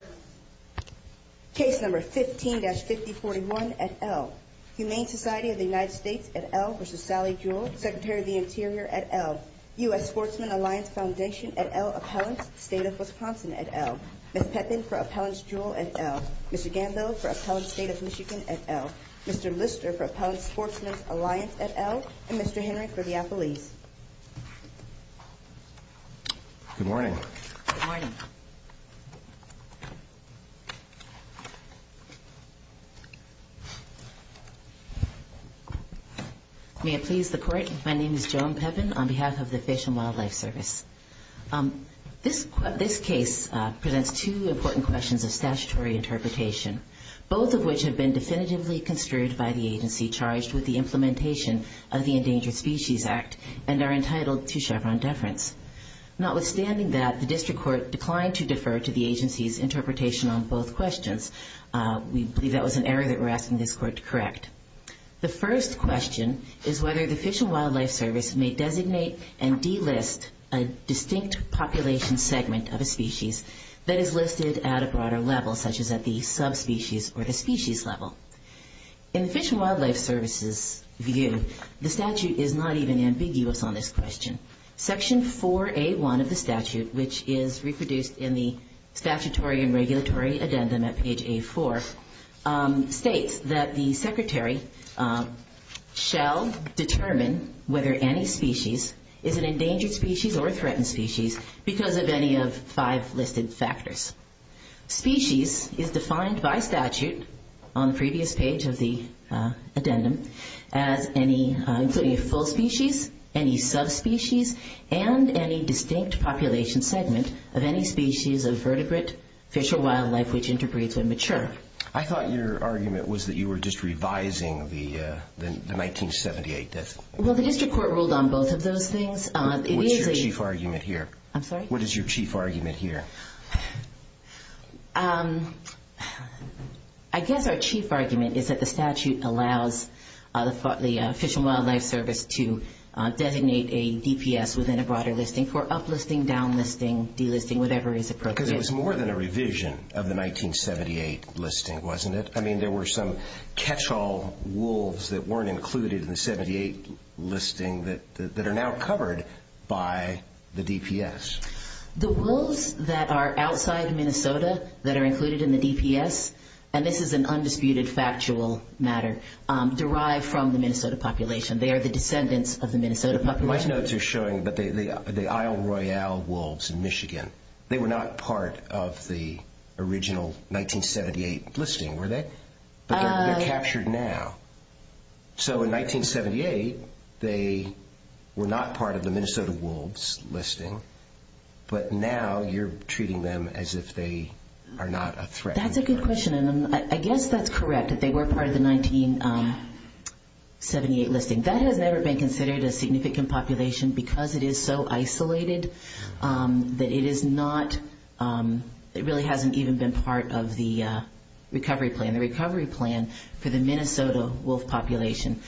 Secretary of the Interior U.S. Sportsman Alliance Foundation Appellant State of Wisconsin Ms. Pepin for Appellant Jewell Mr. Gambo for Appellant State of Michigan Mr. Lister for Appellant Sportsman Alliance Mr. Henry for the Appellees Good morning. May it please the court. My name is Joan Pepin on behalf of the Fish and Wildlife Service. This case presents two important questions of statutory interpretation, both of which have been definitively construed by the agency charged with the implementation of the Endangered Species Act and are entitled to Chevron deference. Notwithstanding that the district court declined to defer to the agency's interpretation on both questions, we believe that was an error that we're asking the court to correct. The first question is whether the Fish and Wildlife Service may designate and delist a distinct population segment of a species that is listed at a broader level, such as at the subspecies or the species level. In Fish and Wildlife Service's view, the statute is not even ambiguous on this question. Section 4A1 of the statute, which is reproduced in the statutory and regulatory addendum at page A4, states that the secretary shall determine whether any species is an endangered species or a threatened species because of any of five listed factors. Species is defined by statute on the previous page of the addendum as any, including a full species, any subspecies, and any distinct population segment of any species of vertebrate fish or wildlife which interbreeds when mature. I thought your argument was that you were just revising the 1978 definition. The district court ruled on both of those things. What is your chief argument here? I guess our chief argument is that the statute allows the Fish and Wildlife Service to designate a DPS within a broader listing for uplisting, downlisting, delisting, whatever is appropriate. Because it was more than a revision of the 1978 listing, wasn't it? There were some catch-all wolves that weren't included in the 1978 listing that are now covered by the DPS. The wolves that are outside of Minnesota that are included in the DPS, and this is an undisputed factual matter, derive from the Minnesota population. They are the descendants of the Minnesota population. My notes are showing the Isle Royale wolves in Michigan. They were not part of the original 1978 listing, were they? They're captured now. In 1978, they were not part of the Minnesota wolves listing, but now you're treating them as if they are not a threat. That's a good question. I guess that's correct, that they were part of the 1978 listing. That has never been considered a significant population because it is so isolated that it really hasn't even been part of the recovery plan for the Minnesota wolf population.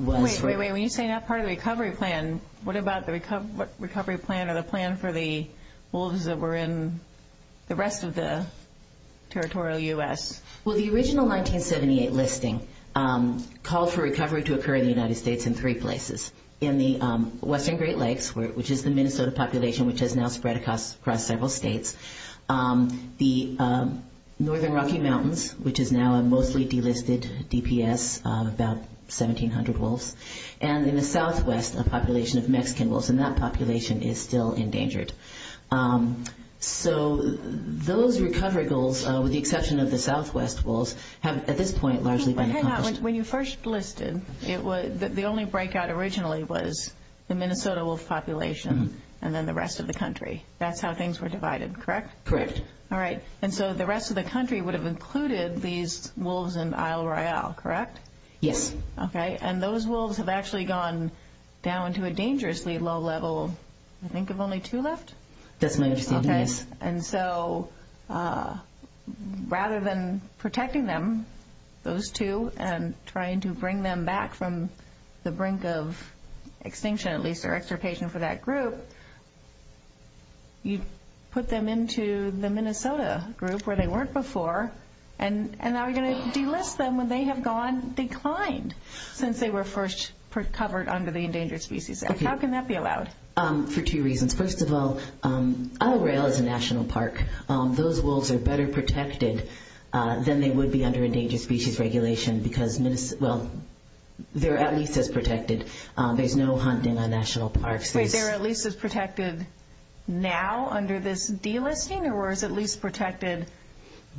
Wait, when you say not part of the recovery plan, what about the recovery plan or the plan for the wolves that were in the rest of the state? In the western Great Lakes, which is the Minnesota population, which has now spread across several states, the northern Rocky Mountains, which is now a mostly delisted DPS, about 1,700 wolves, and in the southwest, a population of Mexican wolves, and that population is still endangered. Those recovery goals, with the exception of the southwest wolves, have at this point largely been accomplished. The only breakout originally was the Minnesota wolf population and then the rest of the country. That's how things were divided, correct? Correct. The rest of the country would have included these wolves in Isle Royale, correct? Yes. Okay, and those wolves have actually gone down to a dangerously low level. I think there's only two left? Definitely. Rather than protecting them, those two, and trying to bring them back from the brink of extinction, at least for extirpation for that group, you put them into the Minnesota group where they were first covered under the Endangered Species Act. How can that be allowed? For two reasons. First of all, Isle Royale is a national park. Those wolves are better protected than they would be under Endangered Species Regulation because they're at least as protected. There's no hunting on national parks. They're at least as protected now under this delisting, or is at least protected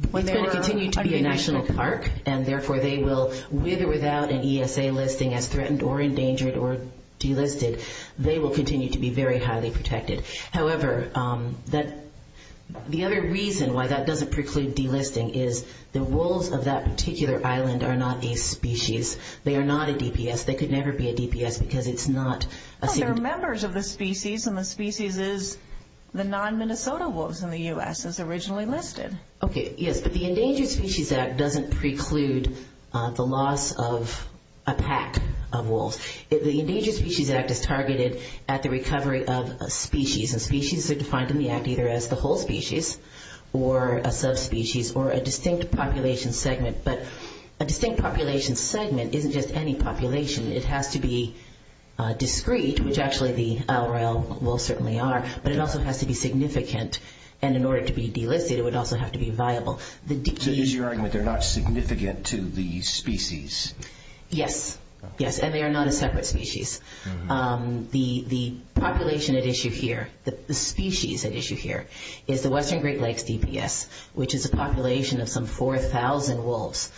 when they were under national parks? They continue to be a national park, and therefore they will, with or without an ESA listing as threatened or endangered or delisted, they will continue to be very highly protected. However, the other reason why that doesn't preclude delisting is the wolves of that particular island are not a species. They are not a DPS. They could never be a DPS because it's not a... They're members of the species, and the species is the non-Minnesota wolves in the U.S. that's originally listed. Okay, yes, but the Endangered Species Act doesn't preclude the loss of a pack of wolves. The Endangered Species Act is targeted at the recovery of a species, and species are defined in the act either as the whole species or a subspecies or a distinct population segment, but a distinct population segment isn't just any population. It has to be discreet, which actually the LRL wolves certainly are, but it also has to be significant, and in order to be delisted, it would also have to be viable. So you're assuring that they're not significant to the species? Yes, yes, and they are not a separate species. The population at issue here, the species at issue here is the Western Great Lakes DPS, which is a population of some 4,000 wolves,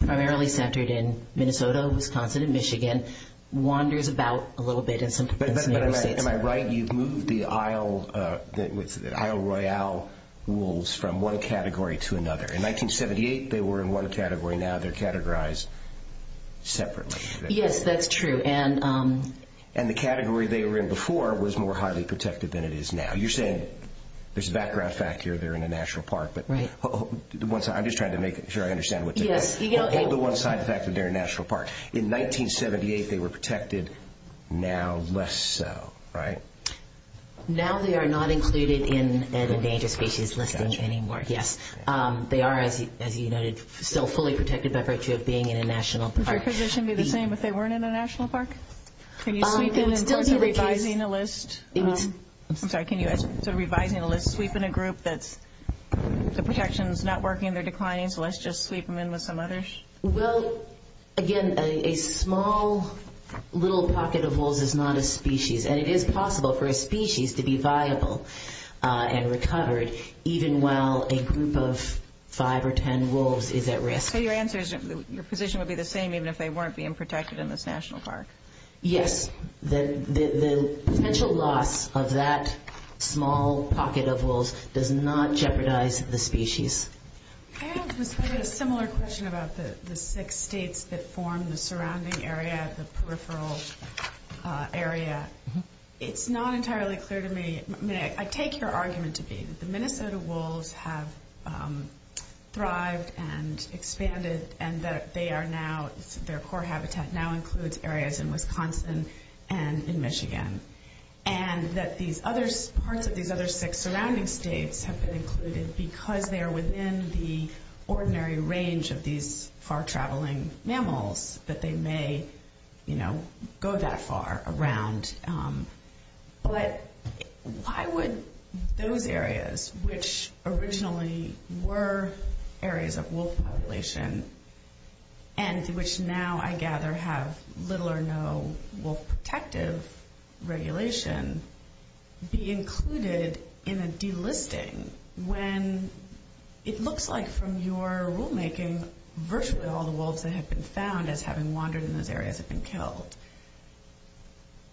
primarily centered in Minnesota, Wisconsin, and Michigan, wanders about a little bit... Am I right? You've moved the Isle Royale wolves from one category to another. In 1978 they were in one category, now they're categorized separately. Yes, that's true, and... There's a background fact here, they're in a national park, but... I'm just trying to make sure I understand what you're saying. On the one side, the fact that they're in a national park. In 1978 they were protected, now less so, right? Now they are not included in an endangered species recovery training board, yes. They are, as you noted, still fully protected by virtue of being in a national park. Would their position be the same if they weren't in a national park? I'm sorry, can you... So, revising the list, sleep in a group that the protection is not working, they're declining, so let's just sleep them in with some others? Well, again, a small little pocket of wolves is not a species, and it is possible for a species to be viable and recovered, even while a group of five or ten wolves is at risk. So your position would be the same even if they weren't being protected in this national park? Yes, the potential loss of that small pocket of wolves does not jeopardize the species. I have a similar question about the six states that form the surrounding area, the peripheral area. It's not entirely clear to me. I take your argument to be that the Minnesota wolves have thrived and expanded and that they are now, their core habitat now includes areas in Wisconsin and in Michigan. And that these other, part of these other six surrounding states have been included because they are within the ordinary range of these far-traveling mammals that they may, you know, go that far around. But why would those areas, which originally were areas of wolf population and which now I gather have little or no wolf protective regulations, be included in a delisting when it looks like from your rulemaking virtually all the wolves that have been found as having wandered in those areas have been killed?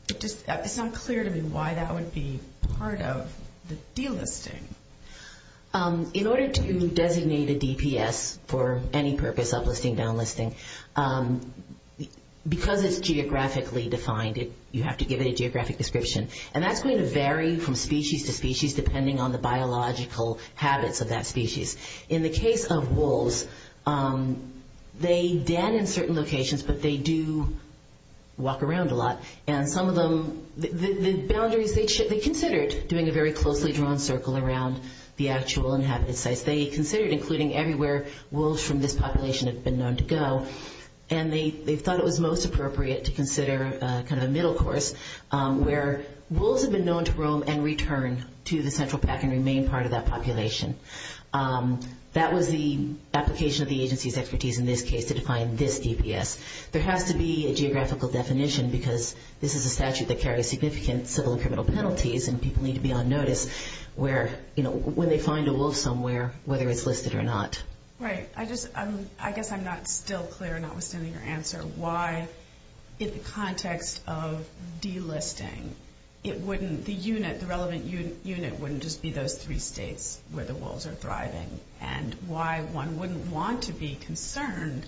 It's not clear to me why that would be part of the delisting. In order to designate a DPS for any purpose, uplisting, downlisting, because it's geographically defined, you have to give it a geographic description. And that's going to vary from species to species depending on the biological habits of that species. In the case of wolves, they then in certain locations, but they do walk around a lot and some of them, the boundaries, they considered doing a very closely drawn circle around the actual inhabited sites. They considered including everywhere wolves from this population have been known to go. And they thought it was most appropriate to consider a central pack and remain part of that population. That was the application of the agency's expertise in this case to define this DPS. There has to be a geographical definition because this is a statute that carries significant civil and criminal penalties and people need to be on notice where, you know, when they find a wolf somewhere, whether it's listed or not. I guess I'm not still clear, not understanding your answer. Why is the context of delisting, it wouldn't, the unit, the relevant unit wouldn't just be those three states where the wolves are thriving. And why one wouldn't want to be concerned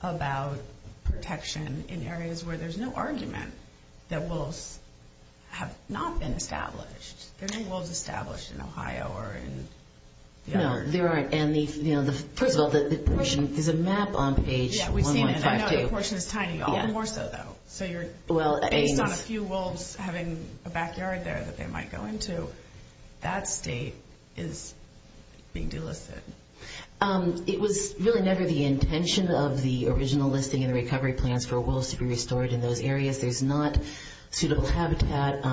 about protection in areas where there's no argument that wolves have not been established. There's no wolves established in Ohio or in the other... No, there aren't. And the, you know, first of all, the portion, there's a map on page 1152. Yeah, I know that portion is tiny, a little more so though. So you're, not a few wolves having a backyard there that they might go into. That state is being delisted. It was really never the intention of the original listing and the recovery plans for wolves to be restored in those areas. There's not suitable habitat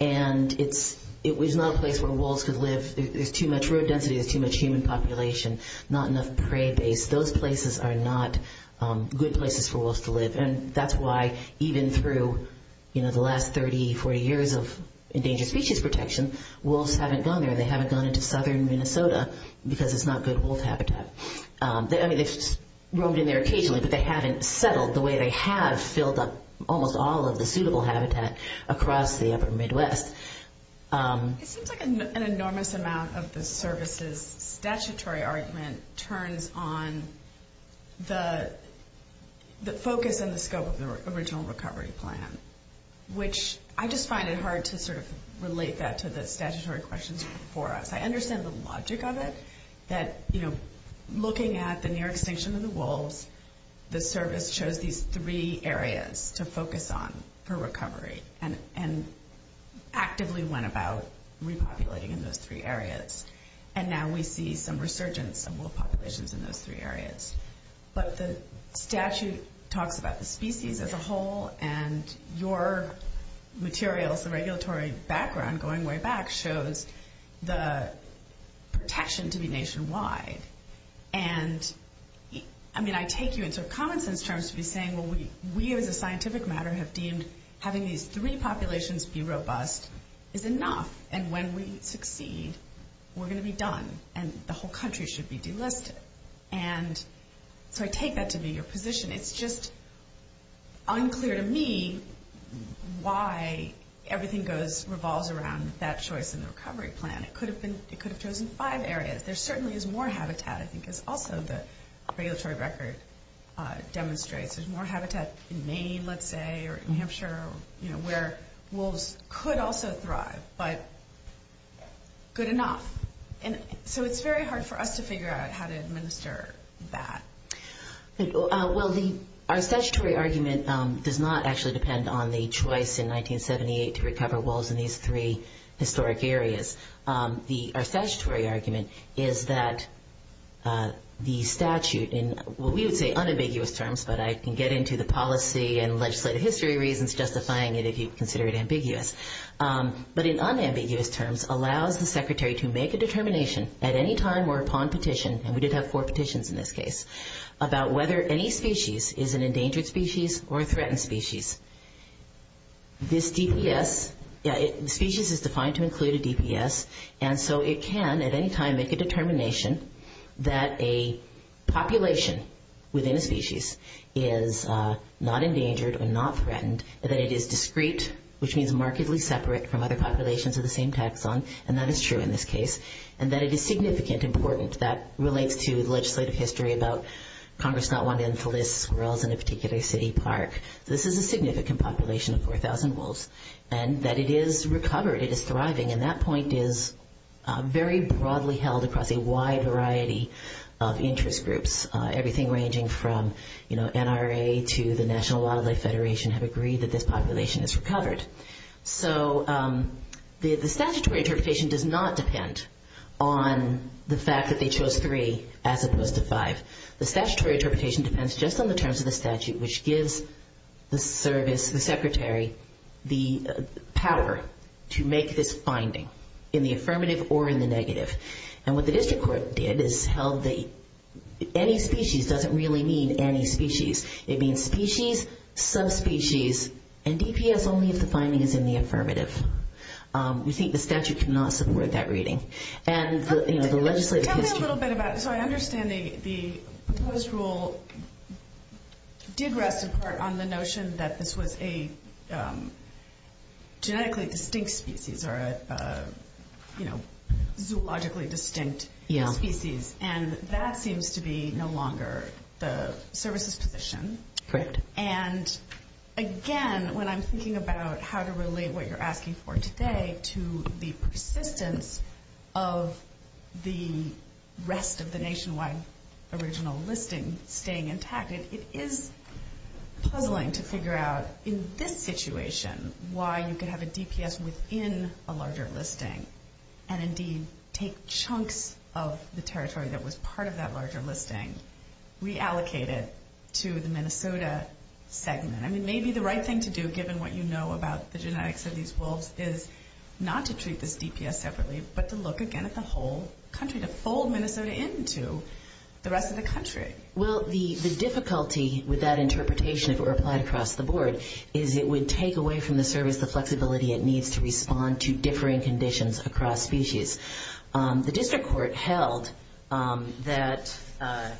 and it's, it was not a place where wolves could live. There's too much root density, there's too much human population, not enough prairie base. Those places are not good places for wolves to live. And that's why even through, you know, the last 30, 40 years of endangered species protection, wolves haven't gone there. They haven't gone into southern Minnesota because it's not good wolf habitat. I mean, it's roamed in there occasionally, but they haven't settled the way they have filled up almost all of the suitable habitat across the upper Midwest. It seems like an enormous amount of the service's statutory argument turns on the focus and the scope of the original recovery plan, which I just find it hard to sort of relate that to the statutory questions before us. I understand the logic of it, that, you know, looking at the New York Station and the wolves, the service shows these three areas to focus on for recovery and actively went about repopulating in those three areas. And now we see some resurgence of wolf populations in those three areas. But the statute talks about the species as a whole and your materials, the regulatory background going way back, shows the protection to be nationwide. And I mean, I take you into common sense terms to be saying, well, we as a scientific matter have deemed having these three populations be robust is enough. And when we succeed, we're going to be done and the whole country should be delisted. And so I take that to be your position. It's just unclear to me why everything revolves around that choice in the recovery plan. It could have chosen five areas. There certainly is more habitat. I think it's also the regulatory record demonstrates there's more habitat in Maine, let's say, or New Hampshire, you know, where wolves could also thrive, but good enough. So it's very hard for us to figure out how to administer that. Well, our statutory argument does not actually depend on the choice in 1978 to recover wolves in these three historic areas. Our statutory argument is that the statute in what we would say unambiguous terms, but I can get into the policy and legislative history reasons justifying it if you consider it ambiguous. But in unambiguous terms, allows the state to make a determination about whether any species is an endangered species or a threatened species. This DPS, species is defined to include a DPS, and so it can at any time make a determination that a population within a species is not endangered or not threatened, that it is discrete, which means markedly separate from other populations of the same taxon, and that is true in this case, and that it is significant, important. That relates to the legislative history about Congress not wanting to install squirrels in a particular city park. This is a significant population of 4,000 wolves, and that it is recovered, it is thriving, and that point is very broadly held across a wide variety of interest groups. Everything ranging from NRA to the National Wildlife Federation have agreed that this is a significant population. The statutory interpretation does not depend on the fact that they chose 3 as opposed to 5. The statutory interpretation depends just on the terms of the statute, which gives the service, the secretary, the power to make this finding in the affirmative or in the negative. And what the district court did is held that any species doesn't really mean any species. It means species, subspecies, and DPS will leave the findings in the affirmative. You see the statute did not support that reading. So I understand the proposed rule did rest in part on the notion that this was a genetically distinct species, or a zoologically distinct species, and that seems to be no longer the service's position. And again, when I'm thinking about how to relate what you're asking for today to the persistence of the rest of the nationwide original listing staying intact, it is troubling to figure out in this situation why you could have a DPS within a part of that larger listing reallocated to the Minnesota segment. I mean, maybe the right thing to do, given what you know about the genetics of these wolves, is not to treat the DPS separately, but to look again at the whole country, the whole Minnesota into the rest of the country. Well, the difficulty with that interpretation, if it were applied across the board, is it would take away from the service the flexibility it needs to respond to that, I've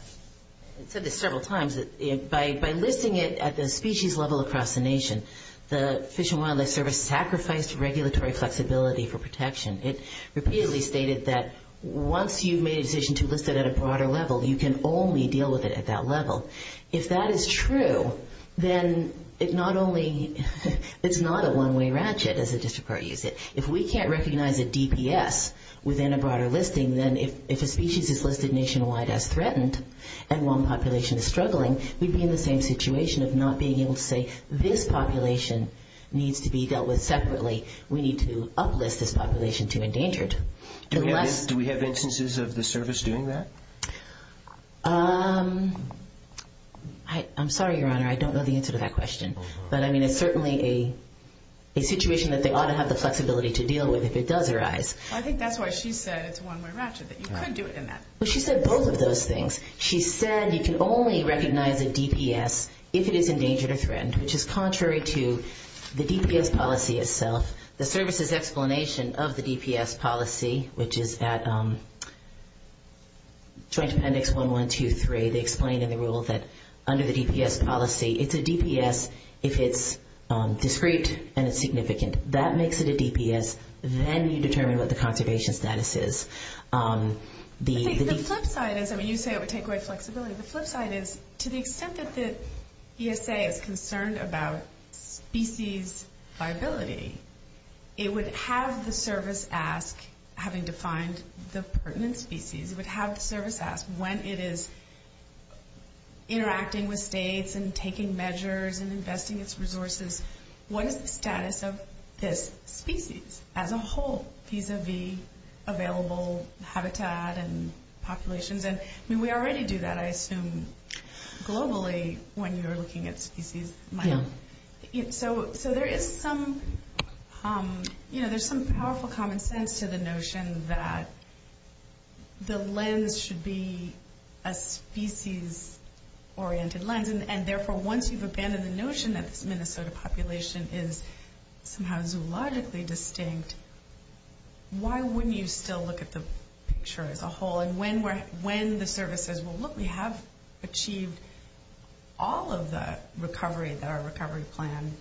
said this several times, by listing it at the species level across the nation, the Fish and Wildlife Service sacrificed regulatory flexibility for protection. It repeatedly stated that once you made a decision to list it at a broader level, you can only deal with it at that level. If that is true, then it's not a one-way ratchet, as the district court used it. If we can't list it nationwide as threatened, and one population is struggling, we'd be in the same situation of not being able to say, this population needs to be dealt with separately, we need to uplift this population to endanger it. Do we have instances of the service doing that? I'm sorry, Your Honor, I don't know the answer to that question. But I mean, it's certainly a situation that they ought to have the flexibility to deal with if it does arise. I think that's why she said it's a one-way ratchet, that you can't do it in that. She said both of those things. She said you can only recognize a DPS if it is endangered or threatened, which is contrary to the DPS policy itself. The service's explanation of the DPS policy, which is that Joint Appendix 1123, they explain in the rules that under the DPS policy, it's a DPS if it's discrete and significant. That makes it a DPS. Then you determine what the population status is. The flip side is, to the extent that the ESA is concerned about species viability, it would have the service ask, having defined the pertinent species, it would have the service ask, when it is interacting with states and taking measures and investing its resources, what is the status of this species as a whole, vis-a-vis available habitat and populations. We already do that, I assume, globally, when you're looking at species. So there is some powerful common sense to the notion that the lens should be a species-oriented lens. Therefore, once you've abandoned the notion that the Minnesota population is somehow zoologically distinct, why wouldn't you still look at the picture as a whole and when the service says, look, we have achieved all of the recovery plans.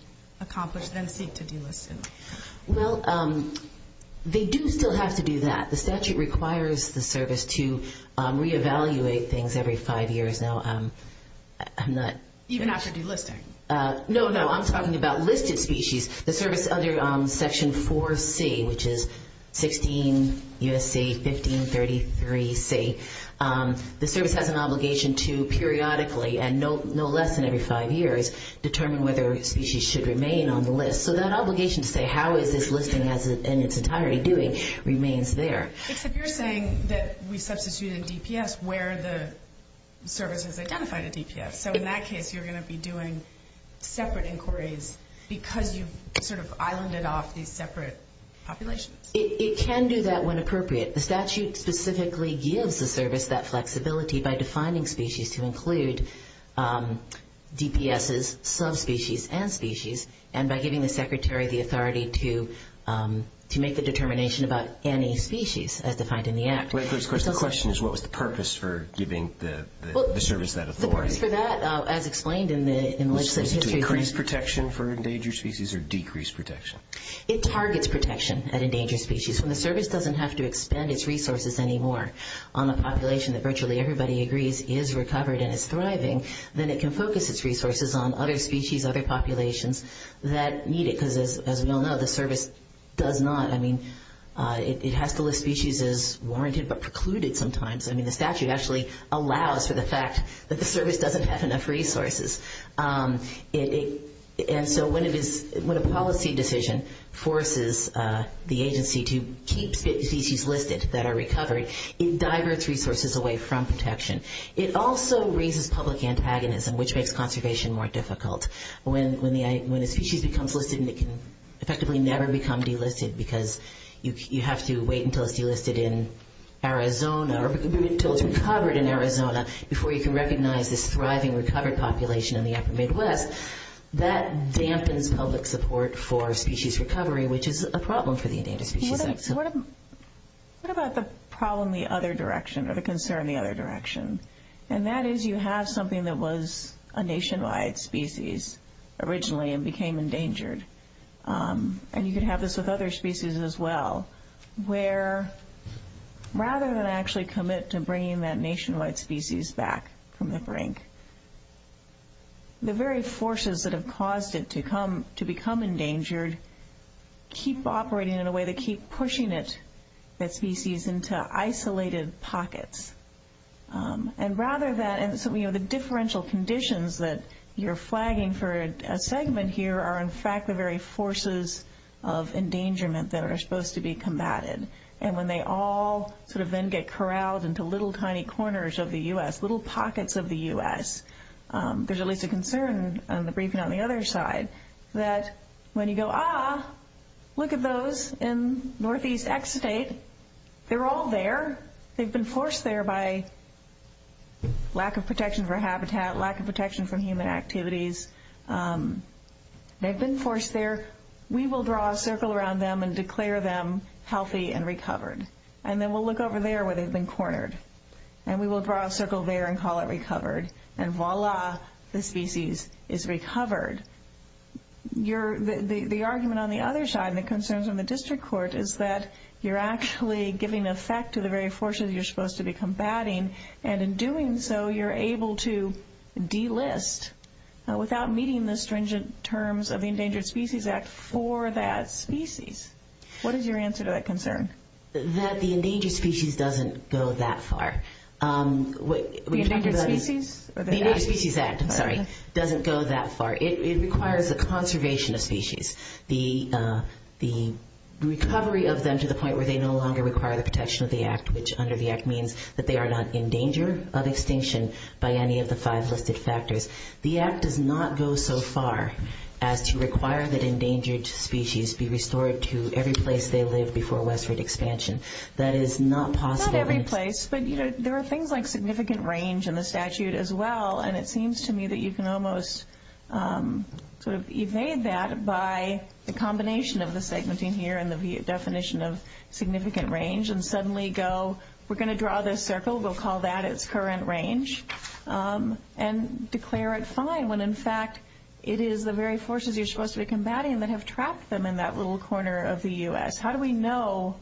They do still have to do that. The statute requires the service to reevaluate things every five years. I'm talking about listed species. The service under Section 4C, which is 16 U.S.C., 1533 C, the service has an obligation to periodically and no less than every five years determine whether a species should remain on the list. So that obligation to say, how is this listing in its entirety doing, remains there. You're saying that we substitute a DPS where the service has identified a DPS. So in that case, you're going to be doing separate inquiries because you've sort of islanded off these separate populations? It can do that when appropriate. The statute specifically gives the service that flexibility by defining species to include DPSs, subspecies, and species, and by giving the secretary the authority to make a determination about any species as defined in the act. The question is, what was the purpose for giving the service that authority? Decreased protection for endangered species or decreased protection? It targets protection at endangered species. When the service doesn't have to expand its resources anymore on a population that virtually everybody agrees is recovered and is thriving, then it can focus its resources on other species, other populations that need it. As you all know, the service does not. It has to list species as warranted but precluded sometimes. I mean, the statute actually allows for the fact that the service doesn't have enough resources. And so when a policy decision forces the agency to keep species listed that are recovered, it diverts resources away from protection. It also raises public antagonism, which makes conservation more difficult. When a species becomes listed and it can effectively never become delisted because you have to wait until it's delisted in Arizona or until it's recovered in Arizona before you can recognize this thriving recovered population in the upper Midwest, that dampens public support for species recovery, which is a problem for the endangered species. What about the problem the other direction or the concern the other direction? And that is you have something that was a nationwide species originally and became endangered. And you can have this with other species as well, where rather than actually commit to bringing that nationwide species back from the brink, the very forces that have caused it to become endangered keep operating in a way to keep pushing it, that species, into isolated pockets. And rather than, you know, the differential conditions that you're flagging for a segment here are in fact the very forces of endangerment that are supposed to be combated. And when they all sort of then get corralled into little tiny corners of the U.S., little pockets of the U.S., there's at least a concern on the briefing on the other side that when you go, ah, look at those in northeast Exudate. They're all there. They've been forced there by lack of protection for habitat, lack of protection from human activities. They've been forced there. We will draw a circle around them and declare them healthy and recovered. And then we'll look over there where they've been cornered. And we will draw a circle there and call it recovered. And voila, the species is recovered. The argument on the other side and the concerns in the district court is that you're actually giving effect to the very forces you're supposed to be combating. And in doing so, you're able to delist without meeting the stringent terms of the Endangered Species Act for that species. What is your answer to that concern? That the endangered species doesn't go that far. The Endangered Species Act, sorry, doesn't go that far. It requires the conservation of species. The recovery of them to the point where they no longer require the protection of the Act, which under the Act means that they are not in danger of extinction by any of the five listed factors. The Act does not go so far as to require that endangered species be restored to every place they live before westward expansion. That is not possible. Not every place, but there are things like significant range in the statute as well. And it seems to me that you can almost evade that by the combination of the segmenting here and the definition of significant range and suddenly go, we're going to draw this circle. We'll call that its current range and declare it fine when in fact it is the very forces you're supposed to be combating that have trapped them in that little corner of the U.S. How do we know?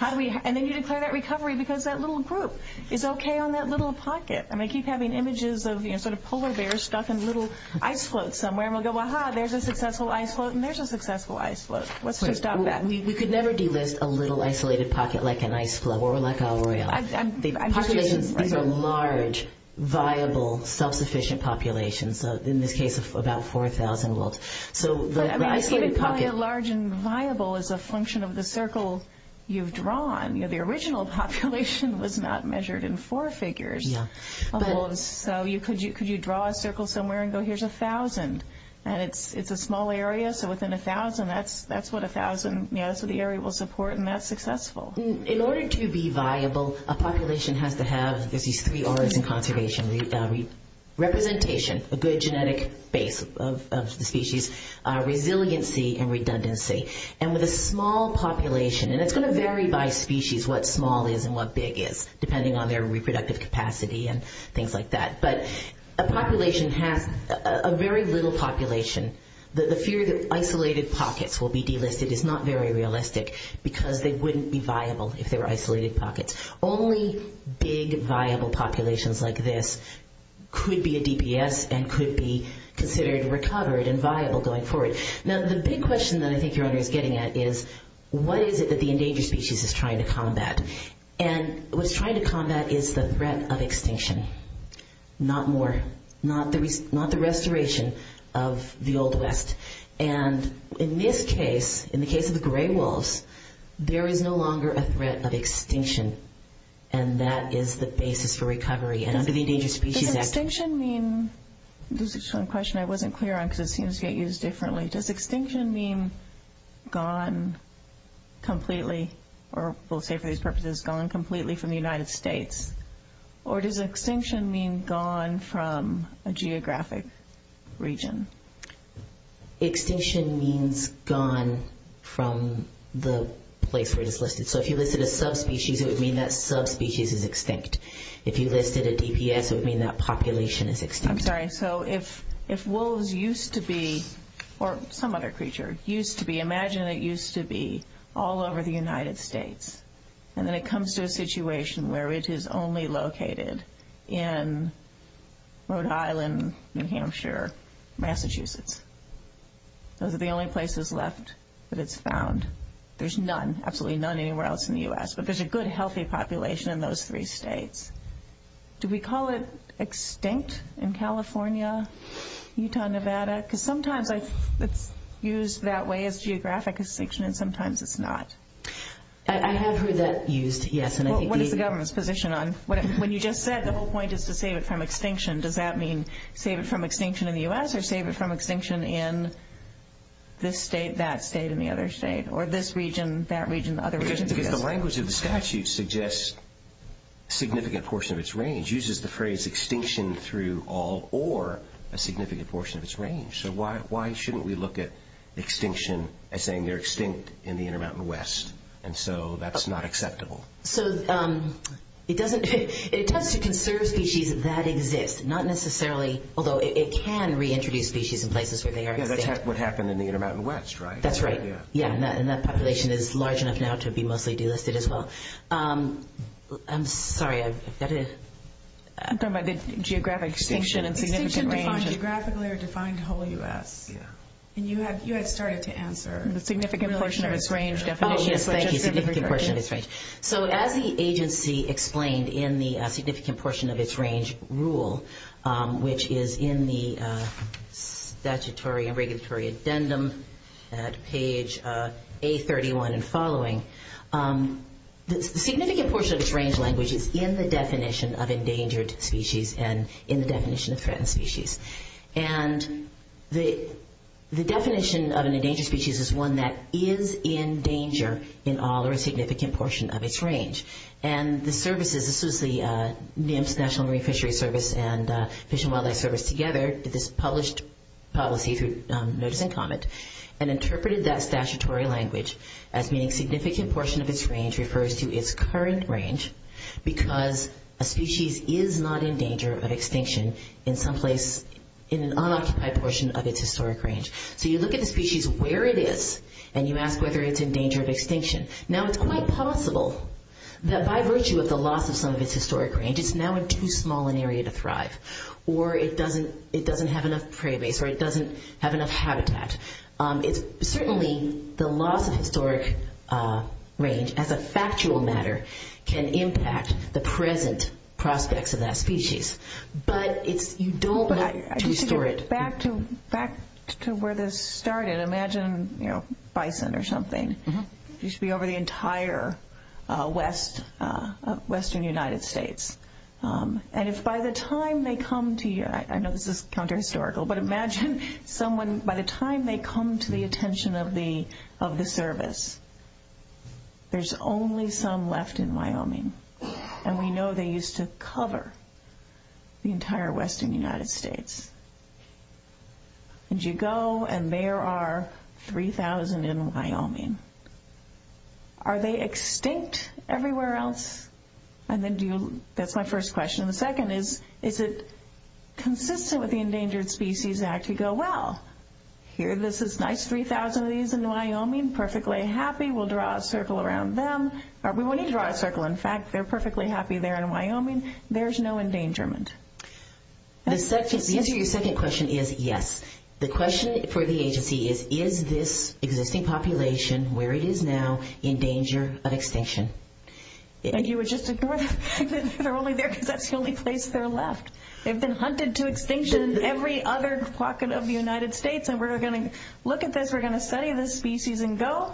And then you declare that recovery because that little group is okay on that little pocket. I keep having images of polar bears stuck in little ice floats somewhere and we'll go, aha, there's a successful ice float and there's a successful ice float. Let's just stop that. We could never do this, a little isolated pocket like an ice float. A large, viable, self-sufficient population. In this case, about 4,000. A large and viable is a function of the circle you've drawn. The original population was not measured in four figures. So could you draw a circle somewhere and go, here's 1,000. And it's a small area, so within 1,000, that's what 1,000, so the area will support and that's successful. In order to be viable, a population has to have representation, a good genetic base of species, resiliency and redundancy. And with a small population, and it's going to vary by species, what small is and what big is, depending on their reproductive capacity and things like that. But a population has, a very little population, the fear that isolated pockets will be delisted is not very realistic because they wouldn't be viable if they were isolated pockets. Only big, viable populations like this could be a DPS and could be considered recovered and viable going forward. Now the big question that I think you're getting at is, what is it that the endangered species is trying to combat? And what it's trying to combat is the threat of extinction. Not more. Not the restoration of the Old West. And in this case, in the case of the gray wolves, there is no longer a threat of extinction. And that is the basis for recovery. Does extinction mean, this is a question I wasn't clear on because it seems to get used differently. Does extinction mean gone completely, or we'll say for these purposes, gone completely from the United States? Or does extinction mean gone from a geographic region? Extinction means gone from the place where it's listed. So if you listed a subspecies, it would mean that subspecies is extinct. If you listed a DPS, it would mean that population is extinct. I'm sorry, so if wolves used to be, or some other creature used to be, imagine it used to be all over the United States. And then it comes to a situation where it is only located in Rhode Island, New Hampshire, Massachusetts. Those are the only places left that it's found. There's none, absolutely none anywhere else in the U.S. But there's a good healthy population in those three states. Do we call it extinct in California, Utah, Nevada? Because sometimes it's used that way as geographic extinction, and sometimes it's not. I have heard that used, yes. When you just said the whole point is to save it from extinction, does that mean save it from extinction in the U.S., or save it from extinction in this state, that state, and the other state? Or this region, that region, the other region? The language of the statute suggests a significant portion of its range. It uses the phrase extinction through all or a significant portion of its range. So why shouldn't we look at extinction as saying they're extinct in the Intermountain West? And so that's not acceptable. So it doesn't, it tells you to conserve species that exist, not necessarily, although it can reintroduce species in places where they are. Because that's what happened in the Intermountain West, right? That's right. Yeah, and that population is large enough now to be mostly delisted as well. I'm sorry, I forgot it. I'm talking about the geographic extinction and significant range. And you had started to answer. Oh, yes, thank you, significant portion of its range. So as the agency explained in the significant portion of its range rule, which is in the statutory and regulatory addendum at page A31 and following, the significant portion of its range language is in the definition of endangered species and in the definition of threatened species. And the definition of an endangered species is one that is in danger in all or a significant portion of its range. And the services, this is the National Marine Fishery Service and Fish and Wildlife Service together, this published policy, if you've noticed any comment, and interpreted that statutory language as meaning significant portion of its range refers to its current range because a species is not in danger of extinction in an unoccupied portion of its historic range. So you look at the species where it is and you ask whether it's in danger of extinction. Now, it's quite possible that by virtue of the loss of some of its historic range, it's now in too small an area to thrive or it doesn't have enough prey base or it doesn't have enough habitat. It's certainly the loss of historic range as a factual matter can impact the present prospects of that species. But if you don't... Back to where this started, imagine bison or something. They should be over the entire western United States. And if by the time they come to your... I know this is counter-historical, but imagine someone, by the time they come to the attention of the service, there's only some left in Wyoming. And we know they used to cover the entire western United States. And you go and there are 3,000 in Wyoming. Are they extinct everywhere else? That's my first question. The second is, is it consistent with the Endangered Species Act? You go, well, here this is nice, 3,000 of these in Wyoming, perfectly happy. We'll draw a circle around them. We wouldn't draw a circle. In fact, they're perfectly happy there in Wyoming. There's no endangerment. The answer to your second question is yes. The question for the agency is, is this existing population where it is now in danger of extinction? They're only there because that's the only place they're left. They've been hunted to extinction in every other pocket of the United States. And we're going to look at this. We're going to study this species and go,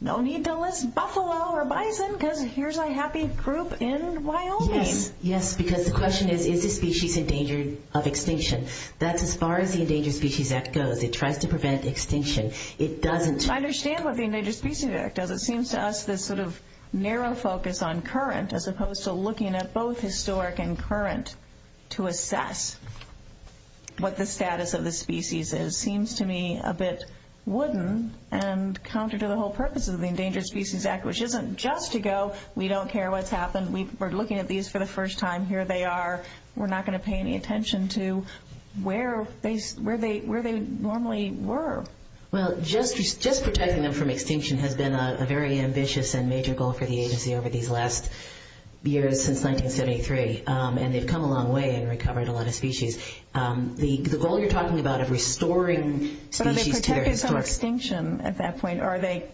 no need to list buffalo or bison because here's a happy group in Wyoming. Yes, because the question is, is this species in danger of extinction? That's as far as the Endangered Species Act goes. It tries to prevent extinction. I understand what the Endangered Species Act does. It seems to us this sort of narrow focus on current, as opposed to looking at both historic and current to assess what the status of the species is seems to me a bit wooden and counter to the whole purpose of the Endangered Species Act, which isn't just to go, we don't care what's happened. We're looking at these for the first time. Here they are. We're not going to pay any attention to where they normally were. Just protecting them from extinction has been a very ambitious and major goal for the agency over these last years, since 1973. And they've come a long way in recovering a lot of species. The goal you're talking about is restoring species. Are they protected from extinction at that point, or are they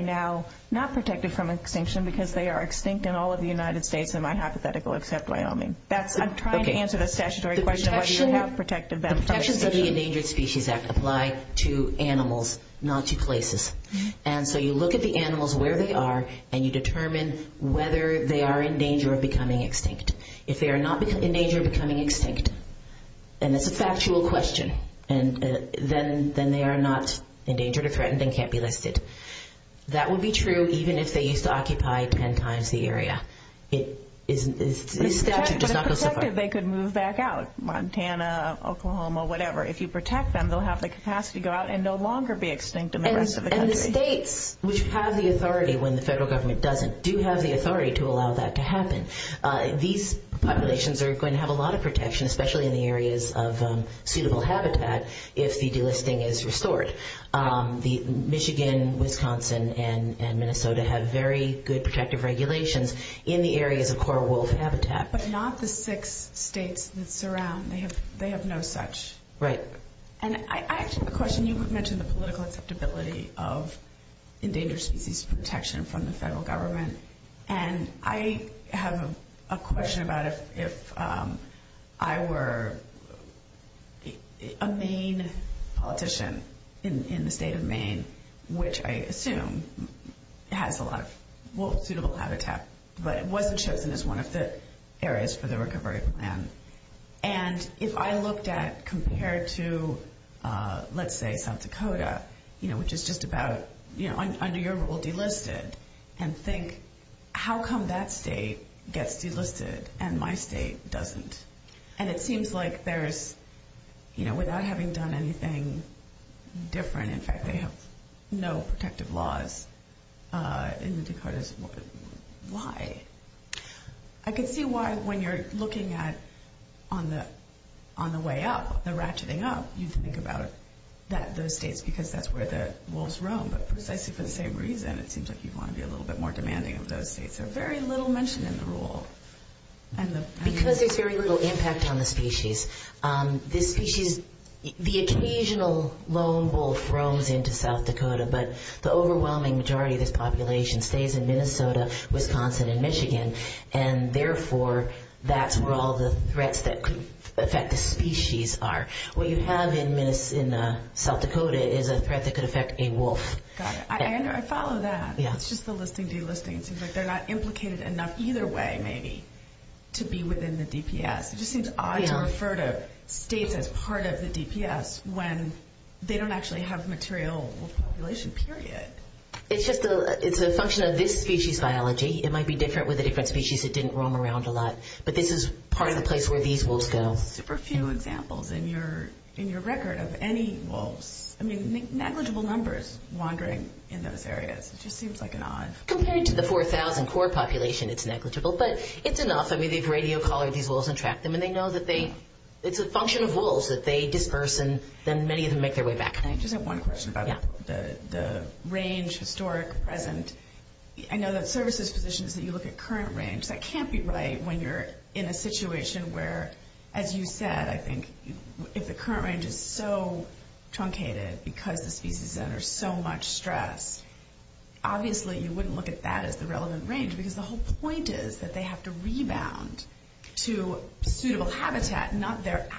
now not protected from extinction because they are extinct in all of the United States, in my hypothetical, except Wyoming? I'm trying to answer the statutory question. The protections of the Endangered Species Act apply to animals, not to places. And so you look at the animals, where they are, and you determine whether they are in danger of becoming extinct. If they are not in danger of becoming extinct, and it's a factual question, then they are not endangered or threatened and can't be lifted. That would be true even if they used to occupy ten times the state of Montana, Oklahoma, whatever. If you protect them, they'll have the capacity to go out and no longer be extinct in the rest of the country. And the states, which have the authority when the federal government doesn't, do have the authority to allow that to happen. These populations are going to have a lot of protection, especially in the areas of suitable habitat, if the delisting is restored. Michigan, Wisconsin, and Minnesota have very good protection, but they have no such. You mentioned the political stability of endangered species protection from the federal government, and I have a question about if I were a Maine politician in the state of Maine, which I assume has a lot of suitable habitat, but it wasn't chosen as one of the areas for the recovery plan, and if I looked at compared to, let's say, South Dakota, which is just about under your rule delisted, and think, how come that state gets delisted and my state doesn't? And it seems like there's, without having done anything different, in fact, they have no protective laws. Why? I can see why when you're looking at, on the way up, the ratcheting up, you can think about those states, because that's where the wolves roam, but precisely for the same reason, it seems like people want to be a little bit more demanding of those states. There's very little mention in the rule. Because there's very little impact on the species. The occasional lone wolf roams into South Dakota, but the overwhelming majority of the population stays in Minnesota, Wisconsin, and Michigan, and therefore, that's where all the threats that could affect the species are. What you find in South Dakota is a threat that could affect a wolf. I follow that. It's just the listing, delisting. They're not implicated enough either way, maybe, to be within the DPS. It just seems odd to refer to states as part of the DPS when they don't actually have a material wolf population, period. It's just a function of this species biology. It might be different with a different species that didn't roam around a lot, but this is part of the place where these wolves go. Super few examples in your record of any wolves. Negligible numbers wandering in those areas. Compared to the 4,000 core population, it's negligible, but it's enough. It's a function of wolves that they disperse, and many of them make their way back. I just have one question about the range, historic, present. I know that services position is that you look at current range. That can't be right when you're in a situation where, as you said, I think if the current range is so truncated because the species is under so much stress, obviously you wouldn't look at that as the relevant range, because the whole point is that they have to rebound to suitable habitat, not that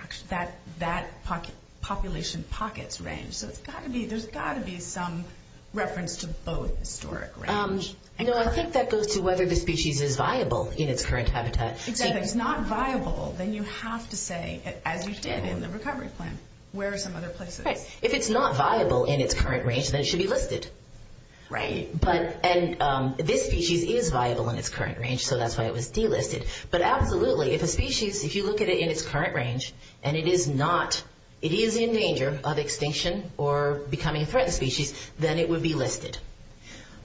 population's pockets range. There's got to be some reference to both historic range. I think that goes to whether the species is viable in its current habitat. If it's not viable, then you have to say, as you said in the recovery plan, where are some other places? If it's not viable in its current range, then it should be listed. This species is viable in its current range, so that's why it was delisted. Absolutely, if a species, if you look at it in its current range, and it is in danger of extinction or becoming a threatened species, then it would be listed.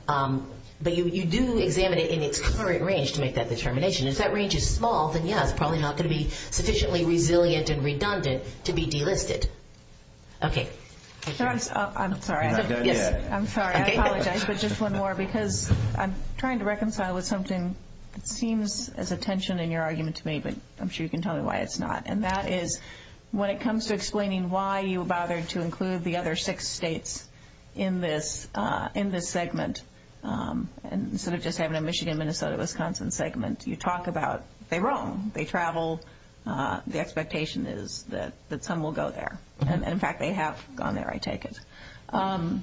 You do examine it in its current range to make that determination. If that range is small, then yeah, it's probably not going to be sufficiently resilient and redundant to be delisted. I'm sorry. I'm sorry, I apologize, but just one more, because I'm trying to reconcile with something that seems as a tension in your argument to me, but I'm sure you can tell me why it's not. When it comes to explaining why you bothered to include the other six states in this segment, instead of just having a Michigan, Minnesota, Wisconsin segment, you talk about, they're wrong. The expectation is that some will go there. In fact, they have gone there, I take it. When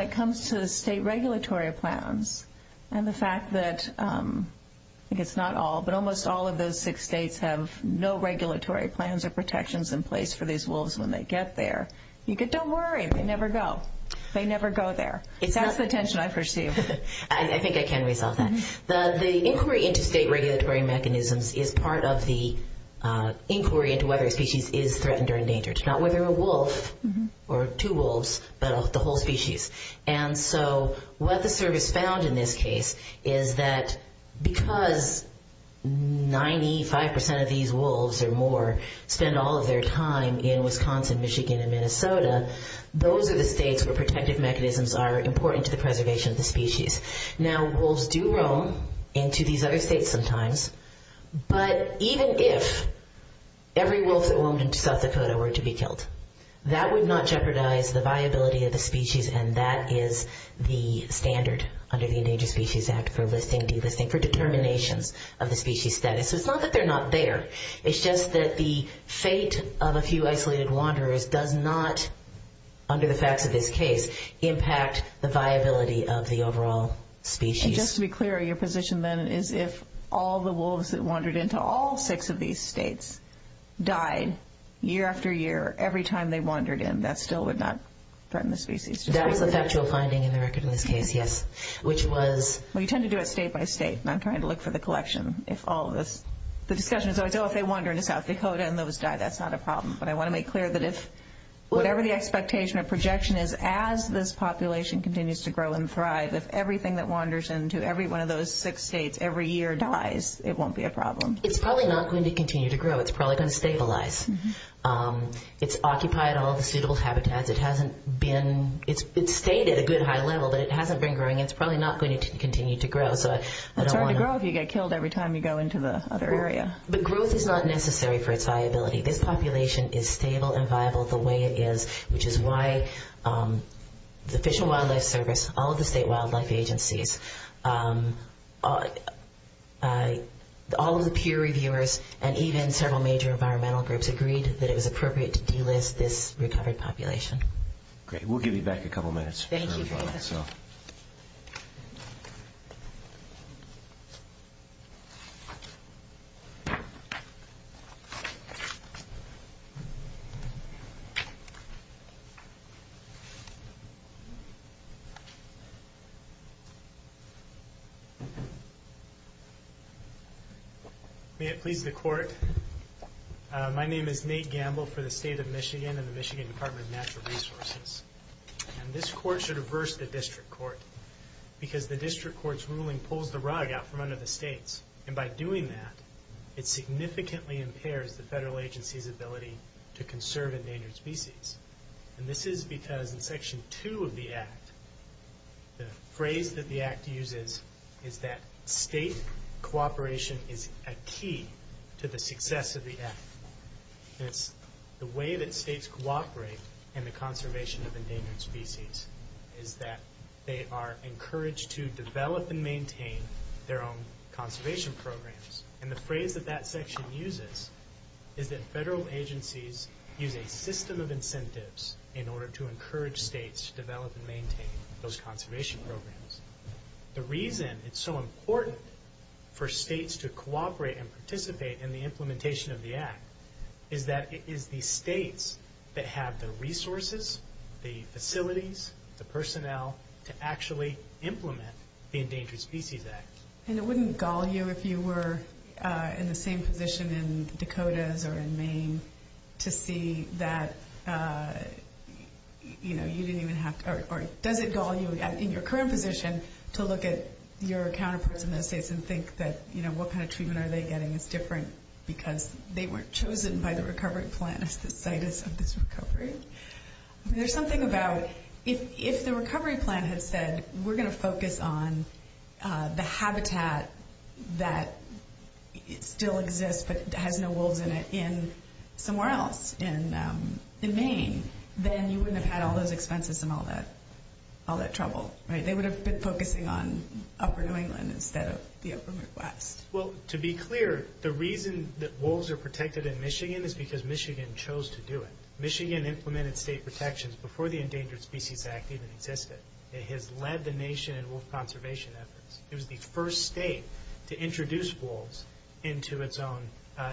it comes to state regulatory plans and the fact that, I think it's not all, but almost all of those six states have no regulatory plans or protections in place for these wolves when they get there. Don't worry, they never go. They never go there. That's the tension I perceive. The inquiry into state regulatory mechanisms is part of the inquiry into whether a species is threatened or endangered. Not whether a wolf or two wolves, but the whole species. What the survey found in this case is that because 95% of these wolves or more spend all of their time in Wisconsin, Michigan, and Minnesota, those are the states where protective mechanisms are important to the preservation of the species. Now, wolves do roam into these other states sometimes, but even if every wolf or woman in South Dakota were to be killed, that would not jeopardize the viability of the species, and that is the standard under the Endangered Species Act for listing, delisting, for determination of the species status. It's not that they're not there. It's just that the fate of a few isolated wanderers does not, under the facts of this case, impact the viability of the overall species. And just to be clear, your position then is if all the wolves that wandered into all six of these states died year after year, every time they wandered in, that still would not threaten the species? That's the factual finding in the record in this case, yes, which was... Well, you tend to do it state by state, and I'm trying to look for the collection. The discussion is, I know if they wander into South Dakota and those die, that's not a problem, but I want to make clear that whatever the expectation or projection is, as this population continues to grow and thrive, if everything that wanders into every one of those six states every year dies, it won't be a problem. It's probably not going to continue to grow. It's probably going to stabilize. It's occupied all the suitable habitats. It's stayed at a good high level, but it hasn't been growing, and it's probably not going to continue to grow. The growth is not necessary for its viability. This population is stable and viable the way it is, which is why the Fish and Wildlife Service, all of the state wildlife agencies, all of the peer reviewers, and even several major environmental groups agreed that it was appropriate to delist this recovered population. Great. We'll give you back a couple minutes. May it please the court, my name is Nate Gamble for the State of Michigan and the Michigan Department of Natural Resources. This court should averse the district court, because the district court's ruling pulls the rug out from under the states. By doing that, it significantly impairs the federal agency's ability to conserve endangered species. This is because in section two of the act, the phrase that the act uses is that state cooperation is a key to the success of the act. The way that states cooperate in the conservation of endangered species is that they are encouraged to develop and maintain their own conservation programs. The phrase that that section uses is that federal agencies use a system of incentives in order to encourage states to develop and maintain those conservation programs. The reason it's so important for states to cooperate and participate in the implementation of the act is that it is the states that have the resources, the facilities, the personnel to actually implement the Endangered Species Act. And it wouldn't gull you if you were in the same position in Dakotas or in Maine to see that, you know, you didn't even have to, or does it gull you in your current position to look at your counterparts in the states and think that, you know, what kind of treatment are they getting is different because they weren't chosen by the state. There's something about, if the recovery plan has said we're going to focus on the habitat that still exists but has no wolves in it somewhere else in Maine, then you wouldn't have had all those expenses and all that trouble, right? They would have been focusing on Upper New England instead of the Upper Midwest. Well, to be clear, the reason that wolves are protected in Michigan is because Michigan chose to do it. Michigan implemented state protections before the Endangered Species Act even existed. It has led the nation in wolf conservation efforts. It was the first state to introduce wolves into its own,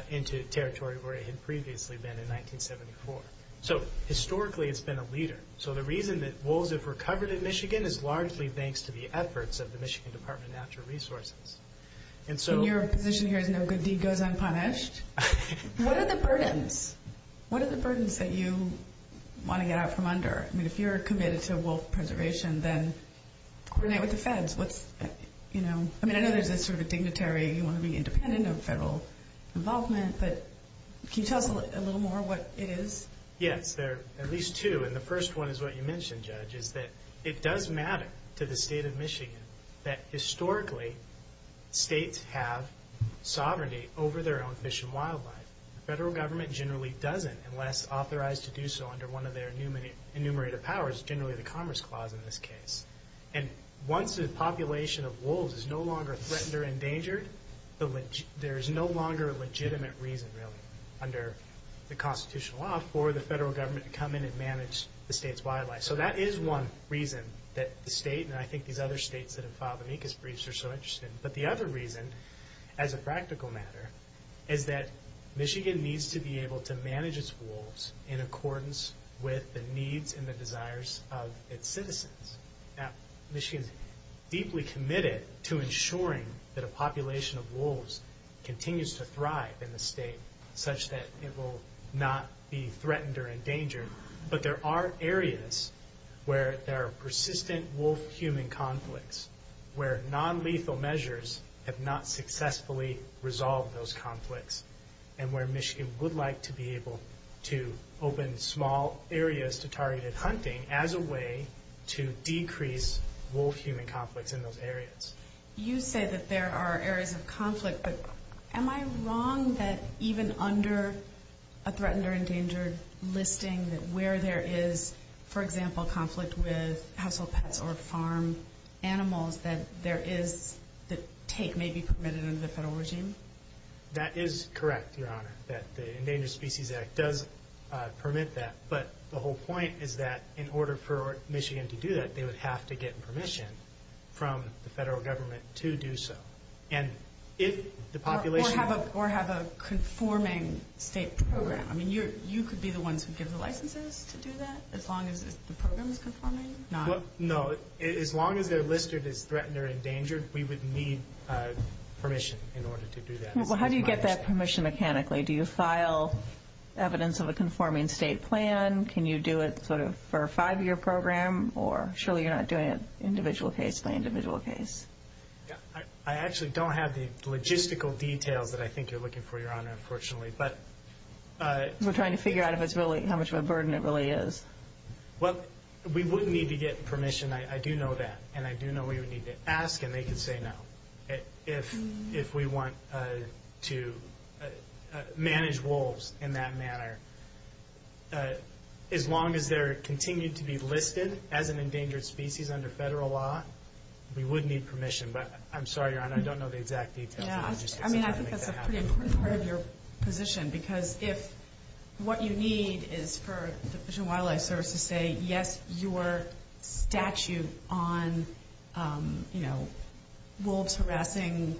into territory where it had previously been in 1974. So historically it's been a leader. So the reason that wolves have recovered in Michigan is largely thanks to the efforts of the Michigan Department of Natural Resources. Your position here is no good deed goes unpunished. What are the burdens? What are the burdens that you want to get out from under? I mean, if you're committed to wolf preservation, then coordinate with the feds. What's, you know, I mean, there's this sort of thing that Terry, you want to be independent of federal involvement. But can you tell us a little more what it is? Yes, there are at least two. And the first one is what you mentioned, Judge, is that it does matter to the state of Michigan that historically states have sovereignty over their own fish and wildlife. The federal government generally doesn't unless authorized to do so under one of their enumerated powers, generally the Commerce Clause in this case. And once the population of wolves is no longer threatened or endangered, there is no longer a legitimate reason, really, under the constitutional law So that is one reason that the state, and I think these other states that have filed amicus briefs are so interested. But the other reason, as a practical matter, is that Michigan needs to be able to manage its wolves in accordance with the needs and the desires of its citizens. Now, Michigan is deeply committed to ensuring that a population of wolves continues to thrive in the state such that it will not be threatened or endangered. But there are areas where there are persistent wolf-human conflicts, where non-lethal measures have not successfully resolved those conflicts, and where Michigan would like to be able to open small areas to targeted hunting as a way to decrease wolf-human conflicts in those areas. You say that there are areas of conflict, but am I wrong that even under a threatened or endangered listing, that where there is, for example, conflict with household pets or farm animals, that there is this take may be permitted under the federal regime? That is correct, Your Honor, that the Endangered Species Act does permit that. But the whole point is that in order for Michigan to do that, they would have to get permission from the federal government to do so. Or have a conforming state program. I mean, you could be the one to give the licenses to do that, as long as the program is conforming? No, as long as their list is threatened or endangered, we would need permission in order to do that. Well, how do you get that permission mechanically? Do you file evidence of a conforming state plan? Can you do it for a five-year program? Or surely you're not doing it individual case by individual case. I actually don't have the logistical details that I think you're looking for, Your Honor, unfortunately. We're trying to figure out how much of a burden it really is. Well, we would need to get permission. I do know that, and I do know we would need to ask, and they can say no if we want to manage wolves in that manner. As long as they're continued to be listed as an endangered species under federal law, we would need permission. But I'm sorry, Your Honor, I don't know the exact details. I mean, I think that's a pretty important part of your position, because if what you need is for the Fish and Wildlife Service to say, yes, your statute on wolves harassing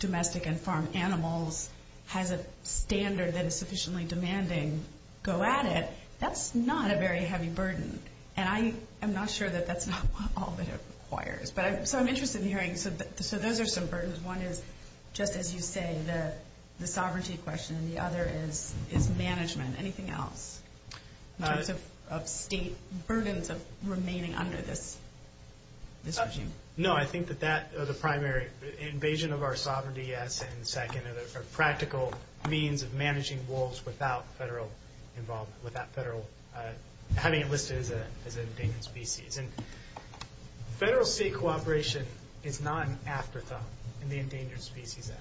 domestic and farm animals has a standard that is sufficiently demanding, go at it, that's not a very heavy burden. And I'm not sure that that's not all that it requires. So I'm interested in hearing, so those are some burdens. One is, just as you say, the sovereignty question, and the other is management, anything else? Just the burden of remaining under this regime. No, I think that that is a primary. Invasion of our sovereignty, as I said in the second, is a practical means of managing wolves without federal involvement, without having it listed as an endangered species. And federal state cooperation is not an afterthought in the Endangered Species Act.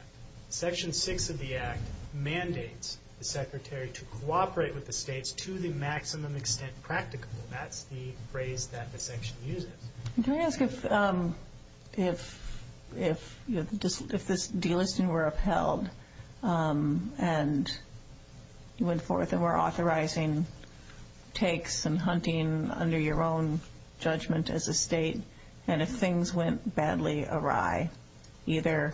Section 6 of the Act mandates the Secretary to cooperate with the states to the maximum extent practical. That's the phrase that the section uses. Can I ask if this delisting were upheld, and you went forth and were authorizing takes and hunting under your own judgment as a state, and if things went badly awry, either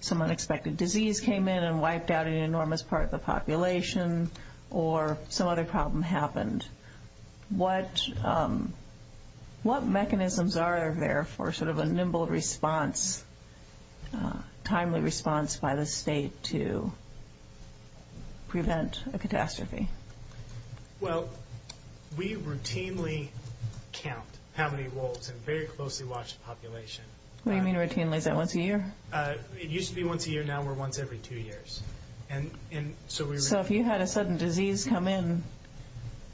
some unexpected disease came in and wiped out an enormous part of the population, or some other problem happened, what mechanisms are there for sort of a nimble response, timely response by the state to prevent a catastrophe? Well, we routinely count how many wolves in a very closely watched population. What do you mean routinely? Is that once a year? It used to be once a year, now we're once every two years. So if you had a sudden disease come in,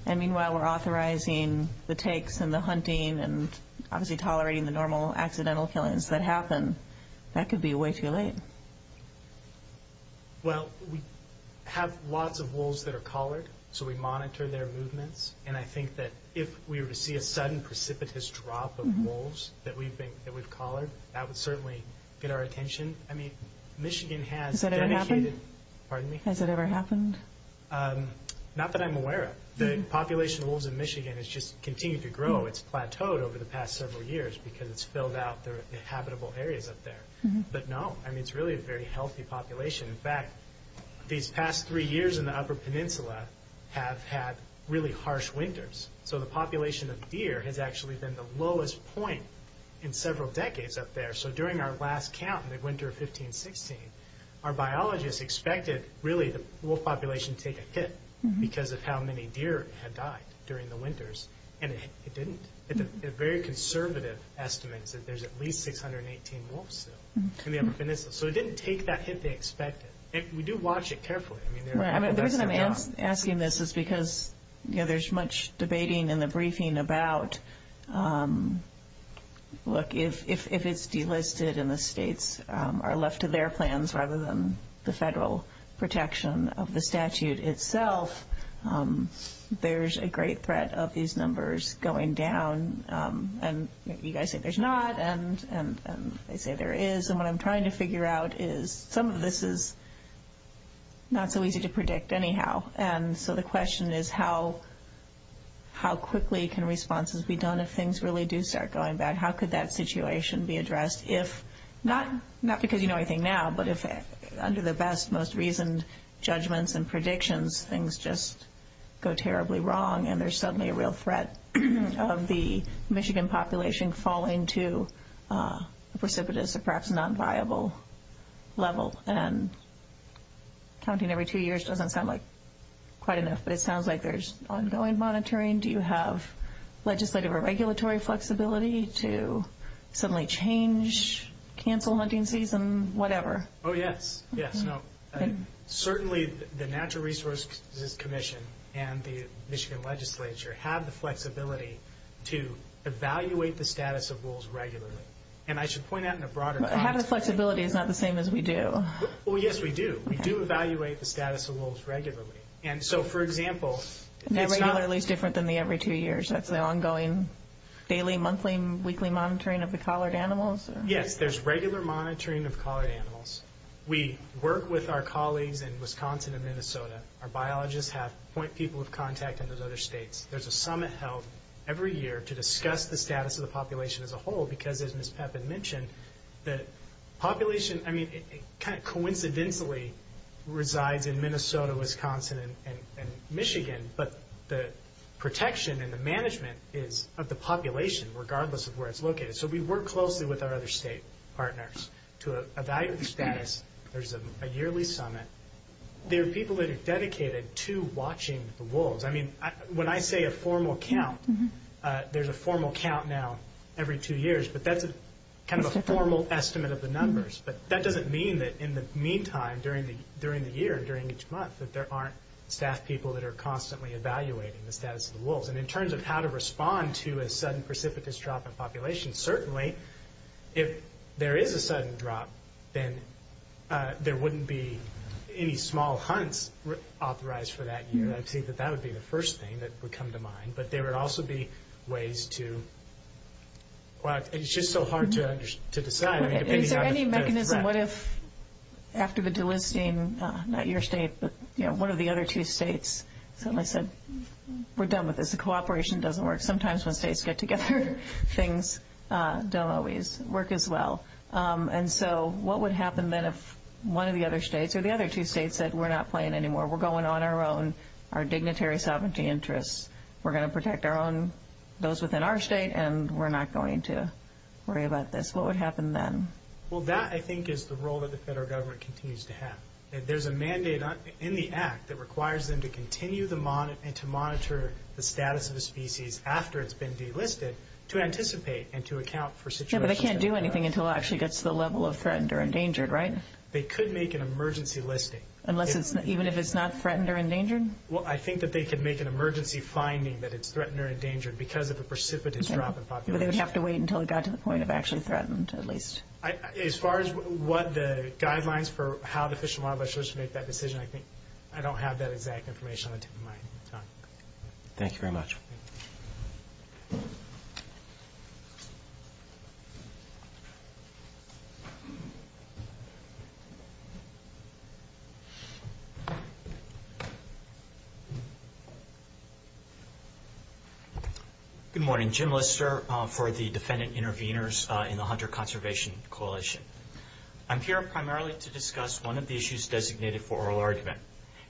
and meanwhile we're authorizing the takes and the hunting and obviously tolerating the normal accidental killings that happen, that could be way too late. Well, we have lots of wolves that are collared, so we monitor their movements, and I think that if we were to see a sudden precipitous drop of wolves that we've collared, that would certainly get our attention. Has that ever happened? Not that I'm aware of. The population of wolves in Michigan has just continued to grow. It's plateaued over the past several years because it's filled out the habitable areas up there. But no, it's really a very healthy population. In fact, these past three years in the Upper Peninsula have had really harsh winters, so the population of deer has actually been the lowest point in several decades up there. So during our last count in the winter of 15-16, our biologists expected really the wolf population to take a hit because of how many deer had died during the winters, and it didn't. It's a very conservative estimate that there's at least 618 wolves still in the Upper Peninsula. So it didn't take that hit they expected. We do watch it carefully. The reason I'm asking this is because there's much debating in the briefing about, look, if it's delisted and the states are left to their plans rather than the federal protection of the statute itself, there's a great threat of these numbers going down. And you guys say there's not, and they say there is. And what I'm trying to figure out is some of this is not so easy to predict anyhow. And so the question is how quickly can responses be done if things really do start going bad? How could that situation be addressed if not because you know everything now, but if under the best, most reasoned judgments and predictions, things just go terribly wrong and there's suddenly a real threat of the Michigan population falling to precipitous or perhaps non-viable level. Counting every two years doesn't sound like quite enough, but it sounds like there's ongoing monitoring. Do you have legislative or regulatory flexibility to suddenly change, cancel hunting season, whatever? Oh, yes. Certainly the Natural Resources Commission and the Michigan legislature have the flexibility to evaluate the status of wolves regularly. And I should point out in a broader sense... Well, yes, we do. We do evaluate the status of wolves regularly. And so, for example... Regularly is different than the every two years. That's the ongoing daily, monthly, weekly monitoring of the collared animals? Yes, there's regular monitoring of collared animals. We work with our colleagues in Wisconsin and Minnesota. Our biologists have point people of contact in those other states. There's a summit held every year to discuss the status of the population as a whole because, as Ms. Peppin mentioned, the population coincidentally resides in Minnesota, Wisconsin, and Michigan, but the protection and the management is of the population, regardless of where it's located. So we work closely with our other state partners to evaluate the status. There's a yearly summit. There are people that are dedicated to watching the wolves. I mean, when I say a formal count, there's a formal count now every two years, but that's kind of a formal estimate of the numbers. But that doesn't mean that in the meantime, during the year, during each month, that there aren't staff people that are constantly evaluating the status of the wolves. And in terms of how to respond to a sudden precipitous drop in population, certainly if there is a sudden drop, then there wouldn't be any small hunts authorized for that year. And I would say that that would be the first thing that would come to mind. But there would also be ways to quite – it's just so hard to describe. Is there any mechanism, what if after the delisting, not your state, but one of the other two states, someone said, we're done with this, the cooperation doesn't work. Sometimes when states get together, things don't always work as well. And so what would happen then if one of the other states or the other two states said, we're not playing anymore, we're going on our own, our dignitary sovereignty interests. We're going to protect our own, those within our state, and we're not going to worry about this. What would happen then? Well, that, I think, is the role that the federal government continues to have. And there's a mandate in the act that requires them to continue to monitor the status of the species after it's been delisted to anticipate and to account for situations. Yeah, but they can't do anything until it actually gets to the level of threatened or endangered, right? They could make an emergency listing. Even if it's not threatened or endangered? Well, I think that they could make an emergency finding that it's threatened or endangered because of the precipitous drop in population. But they would have to wait until it got to the point of actually threatened, at least. As far as what the guidelines for how the Fish and Wildlife Service makes that decision, I think I don't have that exact information. Thank you very much. Jim Lister. Good morning. Jim Lister for the Defendant Intervenors in the Hunter Conservation Coalition. I'm here primarily to discuss one of the issues designated for oral argument.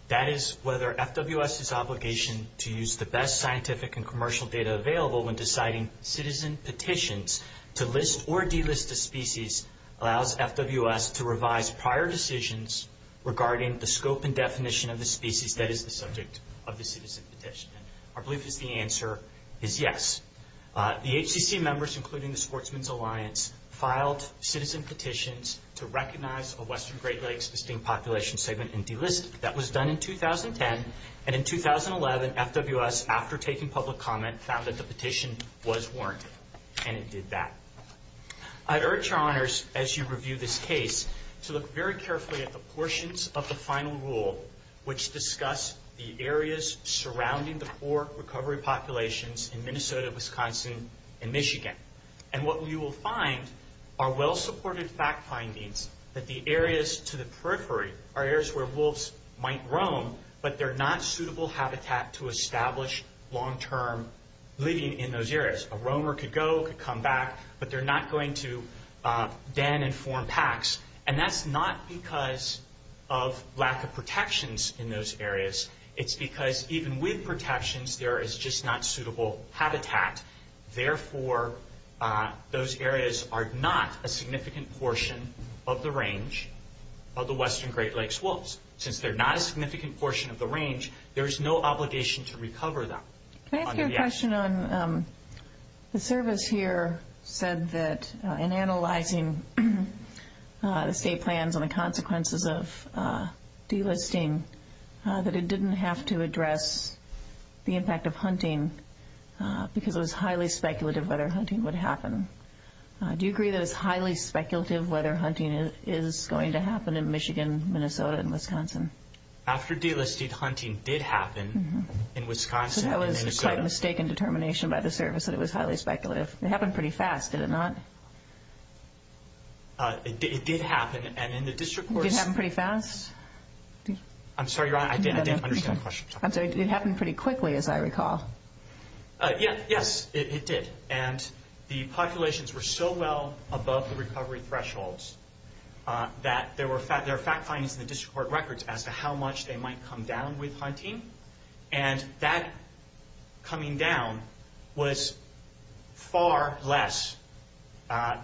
That is whether FWS's obligation to use the best scientific and commercial data available when deciding citizen petitions to list or delist a species allows FWS to revise prior decisions regarding the scope and definition of the species that is the subject of the citizen petition. I believe that the answer is yes. The HCC members, including the Sportsman's Alliance, filed citizen petitions to recognize a Western Great Lakes pristine population segment and delist it. That was done in 2010. And in 2011, FWS, after taking public comment, found that the petition was warranted. And it did that. I urge your honors, as you review this case, to look very carefully at the portions of the final rule which discuss the areas surrounding the four recovery populations in Minnesota, Wisconsin, and Michigan. And what we will find are well-supported fact findings that the areas to the periphery are areas where wolves might roam, but they're not suitable habitat to establish long-term living in those areas. A roamer could go, could come back, but they're not going to den and form packs. And that's not because of lack of protections in those areas. It's because even with protections, there is just not suitable habitat. Therefore, those areas are not a significant portion of the range of the Western Great Lakes wolves. Since they're not a significant portion of the range, there is no obligation to recover them. Can I ask you a question on, the service here said that in analyzing the state plans and the consequences of delisting, that it didn't have to address the impact of hunting because it was highly speculative whether hunting would happen. Do you agree that it's highly speculative whether hunting After delisting, hunting did happen in Wisconsin. So that was quite a mistaken determination by the service that it was highly speculative. It happened pretty fast, did it not? It did happen, and in the district courts... Did it happen pretty fast? I'm sorry, I didn't understand the question. I'm sorry, did it happen pretty quickly, as I recall? Yes, yes, it did. And the populations were so well above the recovery thresholds that there were fact-findings in the district court records as to how much they might come down with hunting, and that coming down was far less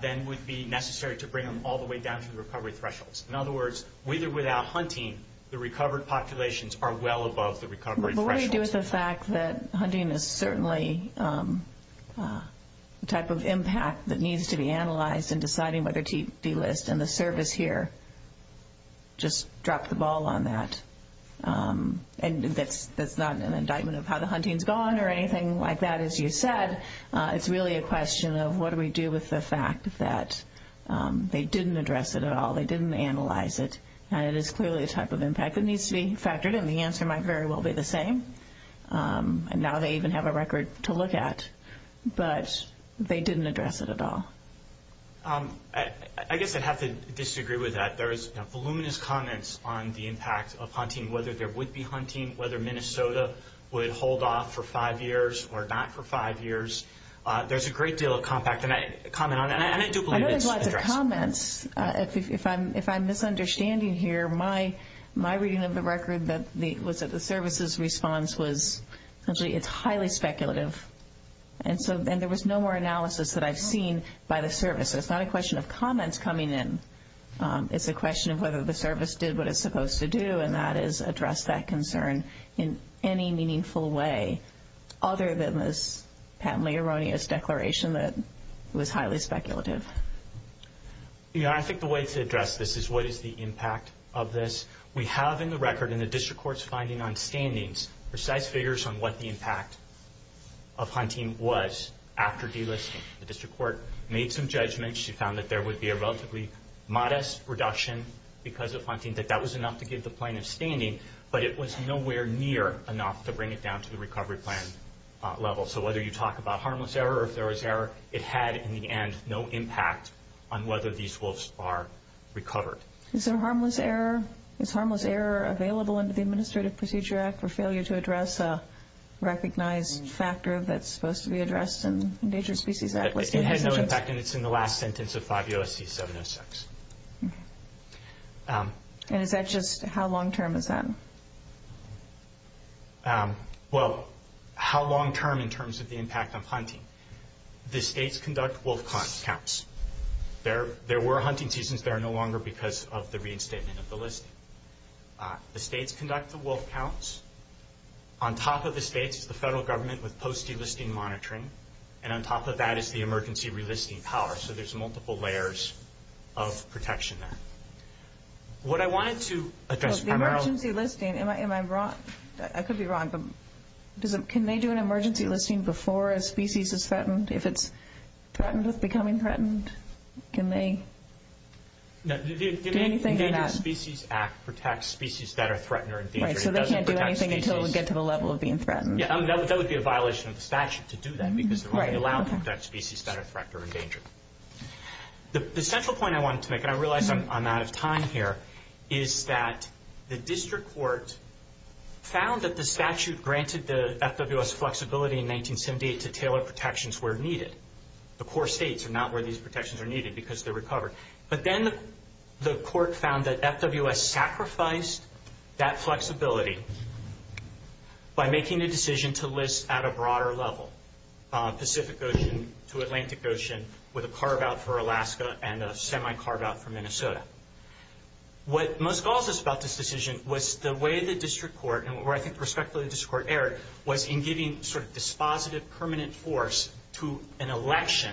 than would be necessary to bring them all the way down to the recovery thresholds. In other words, with or without hunting, the recovered populations are well above the recovery thresholds. What do you do with the fact that hunting is certainly the type of impact that needs to be analyzed in deciding whether to delist? And the service here just dropped the ball on that. And that's not an indictment of how the hunting's gone or anything like that, as you said. It's really a question of what do we do with the fact that they didn't address it at all, they didn't analyze it, and it is clearly the type of impact that needs to be factored, and the answer might very well be the same. And now they even have a record to look at, but they didn't address it at all. I guess I'd have to disagree with that. There's voluminous comments on the impact of hunting, whether there would be hunting, whether Minnesota would hold off for five years or not for five years. There's a great deal of comment on that. I know there's lots of comments. If I'm misunderstanding here, my reading of the record was that the service's response was simply, it's highly speculative. And there was no more analysis that I've seen by the service. It's not a question of comments coming in. It's a question of whether the service did what it's supposed to do, and that is address that concern in any meaningful way, other than this patently erroneous declaration that was highly speculative. Yeah, I think the way to address this is what is the impact of this. We have in the record in the district court's finding on standings precise figures on what the impact of hunting was after delisting. The district court made some judgments. She found that there would be a relatively modest reduction because of hunting. That that was enough to give the plan a standing, but it was nowhere near enough to bring it down to the recovery plan level. So whether you talk about harmless error or ferocious error, it had, in the end, no impact on whether these wolves are recovered. Is there harmless error? Is harmless error available under the Administrative Procedure Act for failure to address a recognized factor that's supposed to be addressed in endangered species? It had no impact, and it's in the last sentence of 5 U.S.C. 706. And is that just how long-term is that? Well, how long-term in terms of the impact of hunting? The states conduct wolf counts. There were hunting seasons there no longer because of the reinstatement of the listing. The states conduct the wolf counts. On top of the states, the federal government would post the listing monitoring, and on top of that is the emergency relisting power. So there's multiple layers of protection there. What I wanted to address... The emergency listing, am I wrong? I could be wrong, but can they do an emergency listing before a species is threatened? If it's threatened with becoming threatened, can they do anything in that? The Endangered Species Act protects species that are threatened or endangered. Okay, so they can't do anything until we get to the level of being threatened. Yeah, that would be a violation of the statute to do that because it would only allow that species that are threatened or endangered. The central point I wanted to make, and I realize I'm out of time here, is that the district courts found that the statute granted the FWS flexibility in 1978 to tailor protections where needed. The core states are not where these protections are needed because they're recovered. But then the court found that FWS sacrificed that flexibility by making a decision to list at a broader level, Pacific Ocean to Atlantic Ocean, with a carve-out for Alaska and a semi-carve-out for Minnesota. What most caught us about this decision was the way the district court, and where I think prospectively the district court erred, was in giving sort of dispositive permanent force to an election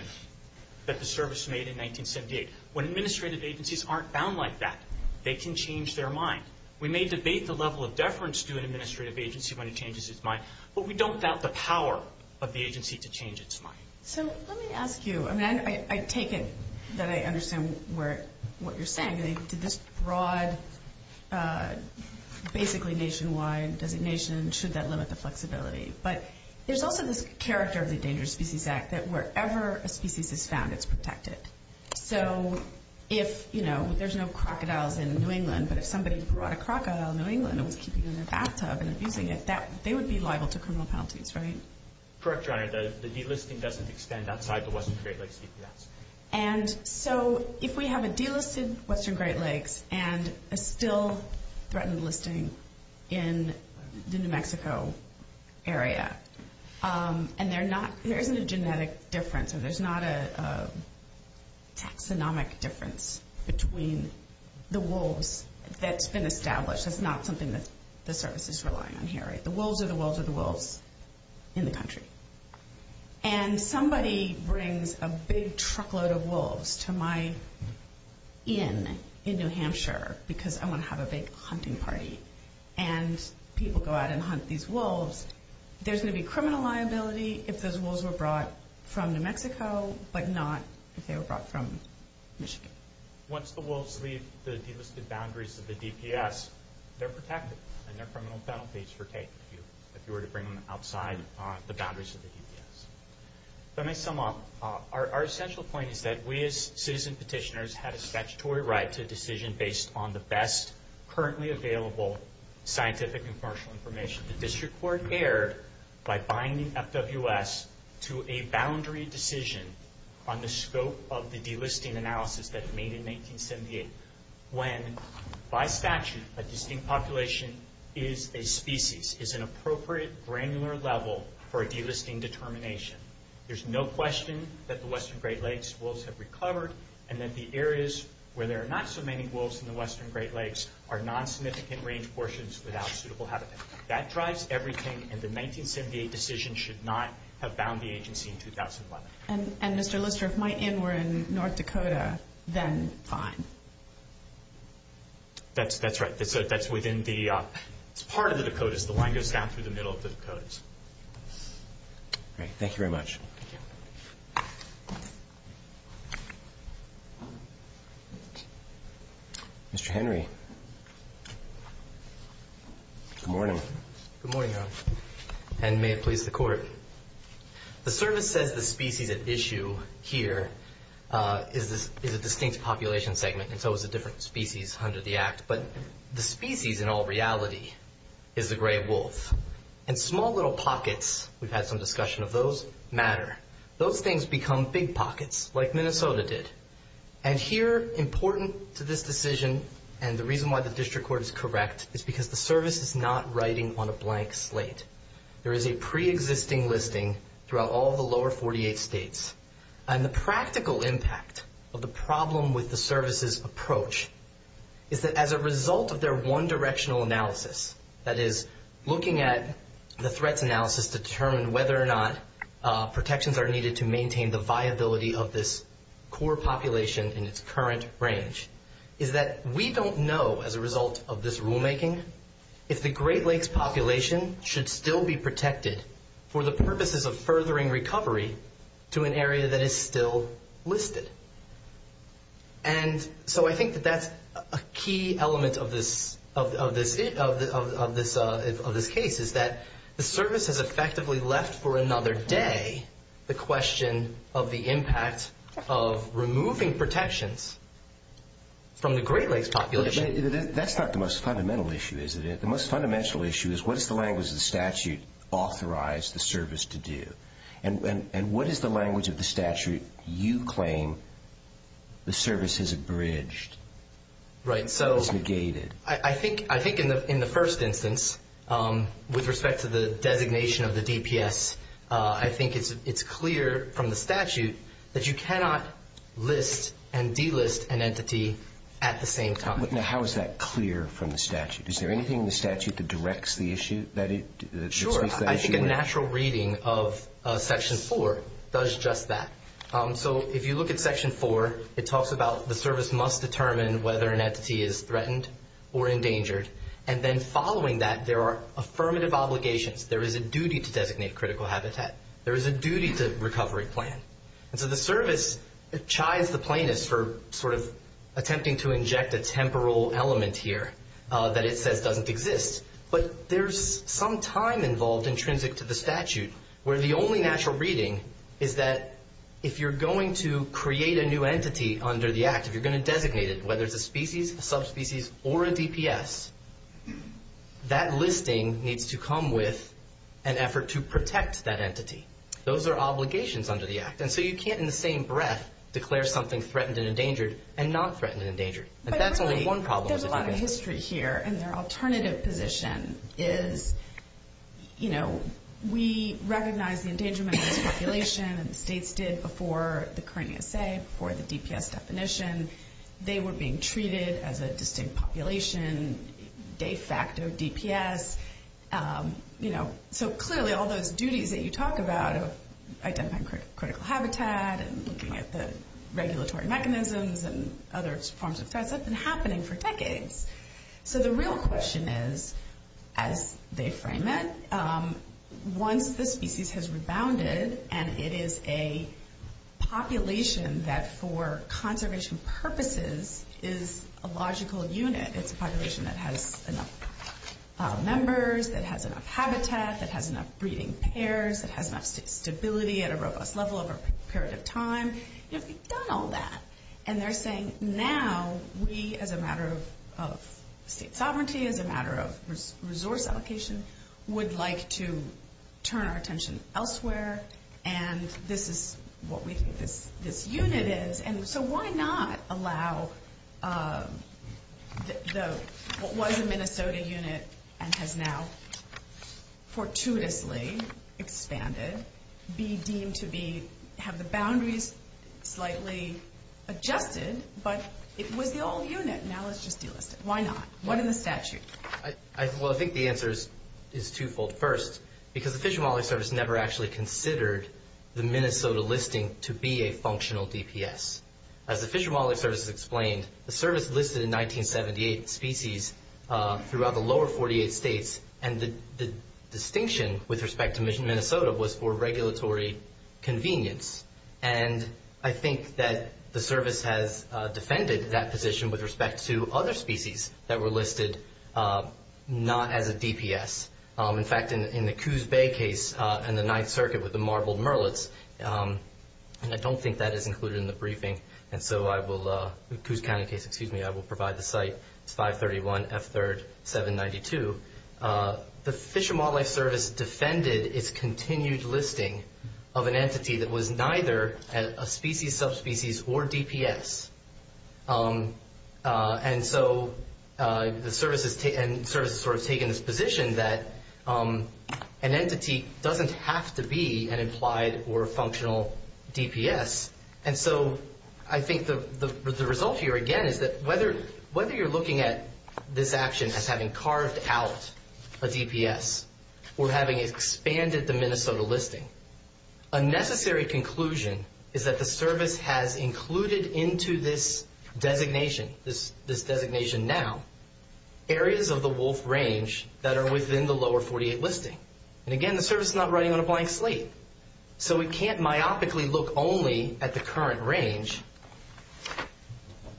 that the service made in 1978. When administrative agencies aren't bound like that, they can change their mind. We may debate the level of deference to an administrative agency when it changes its mind, but we don't doubt the power of the agency to change its mind. So let me ask you, and I take it that I understand what you're saying, to this broad, basically nationwide designation, should that limit the flexibility. But there's also the character of the Dangerous Species Act, that wherever a species is found, it's protected. So if, you know, there's no crocodiles in New England, but if somebody brought a crocodile to New England and was keeping it in a bathtub, and a human did that, they would be liable to criminal penalties, right? Correct, Your Honor. The delisting doesn't extend outside the Western Great Lakes CCS. And so if we have a delisted Western Great Lakes, and a still threatened listing in the New Mexico area, and there isn't a genetic difference, and there's not a taxonomic difference between the wolves that's been established. That's not something that the service is relying on here, right? The wolves are the wolves of the wolves in the country. And somebody brings a big truckload of wolves to my inn in New Hampshire, because I want to have a big hunting party. And people go out and hunt these wolves. There's going to be criminal liability if those wolves were brought from New Mexico, but not if they were brought from Michigan. Once the wolves leave the delisted boundaries of the DPS, they're protected, and their criminal penalties pertain to you. If you were to bring them outside the boundaries of the DPS. Let me sum up. Our central point is that we as citizen petitioners have a statutory right to decision based on the best currently available scientific and commercial information. The district court erred by binding FWS to a boundary decision on the scope of the delisting analysis that's made in 1978. By statute, a distinct population is a species, is an appropriate granular level for a delisting determination. There's no question that the Western Great Lakes wolves have recovered, and that the areas where there are not so many wolves in the Western Great Lakes are non-significant range portions without suitable habitat. That drives everything, and the 1978 decision should not have bound the agency in 2011. And Mr. Lister, if my in were in North Dakota, then fine. That's right. That's within the part of the Dakotas. The line goes down through the middle of the Dakotas. All right. Thank you very much. Mr. Henry. Good morning. Good morning. And may it please the court. The service says the species at issue here is a distinct population segment, and so is the different species under the act. But the species in all reality is the gray wolf. And small little pockets, we've had some discussion of those, matter. Those things become big pockets, like Minnesota did. And here, important to this decision, and the reason why the district court is correct, is because the service is not writing on a blank slate. There is a preexisting listing throughout all the lower 48 states. And the practical impact of the problem with the service's approach is that as a result of their one-directional analysis, that is looking at the threat analysis to determine whether or not protections are needed to maintain the viability of this core population in its current range, is that we don't know, as a result of this rulemaking, if the Great Lakes population should still be protected for the purposes of furthering recovery to an area that is still listed. And so I think that that's a key element of this case, is that the service has effectively left for another day the question of the impact of removing protections from the Great Lakes population. That's not the most fundamental issue, is it? The most fundamental issue is what does the language of the statute authorize the service to do? And what is the language of the statute you claim the service has abridged, has negated? I think in the first instance, with respect to the designation of the DPS, I think it's clear from the statute that you cannot list and delist an entity at the same time. How is that clear from the statute? Is there anything in the statute that directs the issue? Sure. I think a natural reading of Section 4 does stress that. So if you look at Section 4, it talks about the service must determine whether an entity is threatened or endangered. And then following that, there are affirmative obligations. There is a duty to designate critical habitat. There is a duty to recovery plan. And so the service chides the plaintiff for sort of attempting to inject a temporal element here that it says doesn't exist. But there's some time involved intrinsic to the statute where the only natural reading is that if you're going to create a new entity under the Act, if you're going to designate it, whether it's a species, a subspecies, or a DPS, that listing needs to come with an effort to protect that entity. Those are obligations under the Act. And so you can't, in the same breath, declare something threatened and endangered and not threatened and endangered. But really, there's a lot of history here, and their alternative position is, you know, we recognize the endangerment of the population. States did before the Karenian State, before the DPS definition. They were being treated as a distinct population. They stacked their DPS. You know, so clearly, all those duties that you talk about, identifying critical habitat and looking at the regulatory mechanisms and other forms of threats, that's been happening for decades. So the real question is, as they frame it, once the species has rebounded, and it is a population that for conservation purposes is a logical unit, it's a population that has enough members, it has enough habitat, it has enough breeding pairs, it has enough stability at a robust level over a period of time, it's done all that. And they're saying, now we, as a matter of state sovereignty, as a matter of resource allocation, would like to turn our attention elsewhere, and this is what we think this unit is, and so why not allow what was a Minnesota unit and has now fortuitously expanded, be deemed to be, have the boundaries slightly adjusted, but it was the old unit. Now let's just deal with it. Why not? What are the statutes? Well, I think the answer is twofold. First, because the Fish and Wildlife Service never actually considered the Minnesota listing to be a functional DPS. As the Fish and Wildlife Service explained, the service listed 1978 species throughout the lower 48 states, and the distinction with respect to Minnesota was for regulatory convenience. And I think that the service has defended that position with respect to other species that were listed not as a DPS. In fact, in the Coos Bay case and the Ninth Circuit with the marbled merlets, I don't think that is included in the briefing, and so I will, in Coos County case, excuse me, I will provide the site, 531 F3rd 792. The Fish and Wildlife Service defended its continued listing of an entity that was neither a species, subspecies, or DPS. And so the service has sort of taken this position that an entity doesn't have to be an implied or functional DPS. And so I think the result here, again, is that whether you're looking at this action as having carved out a DPS or having expanded the Minnesota listing, a necessary conclusion is that the service has included into this designation, this designation now, areas of the wolf range that are within the lower 48 listing. And again, the service is not running on a blank slate. So we can't myopically look only at the current range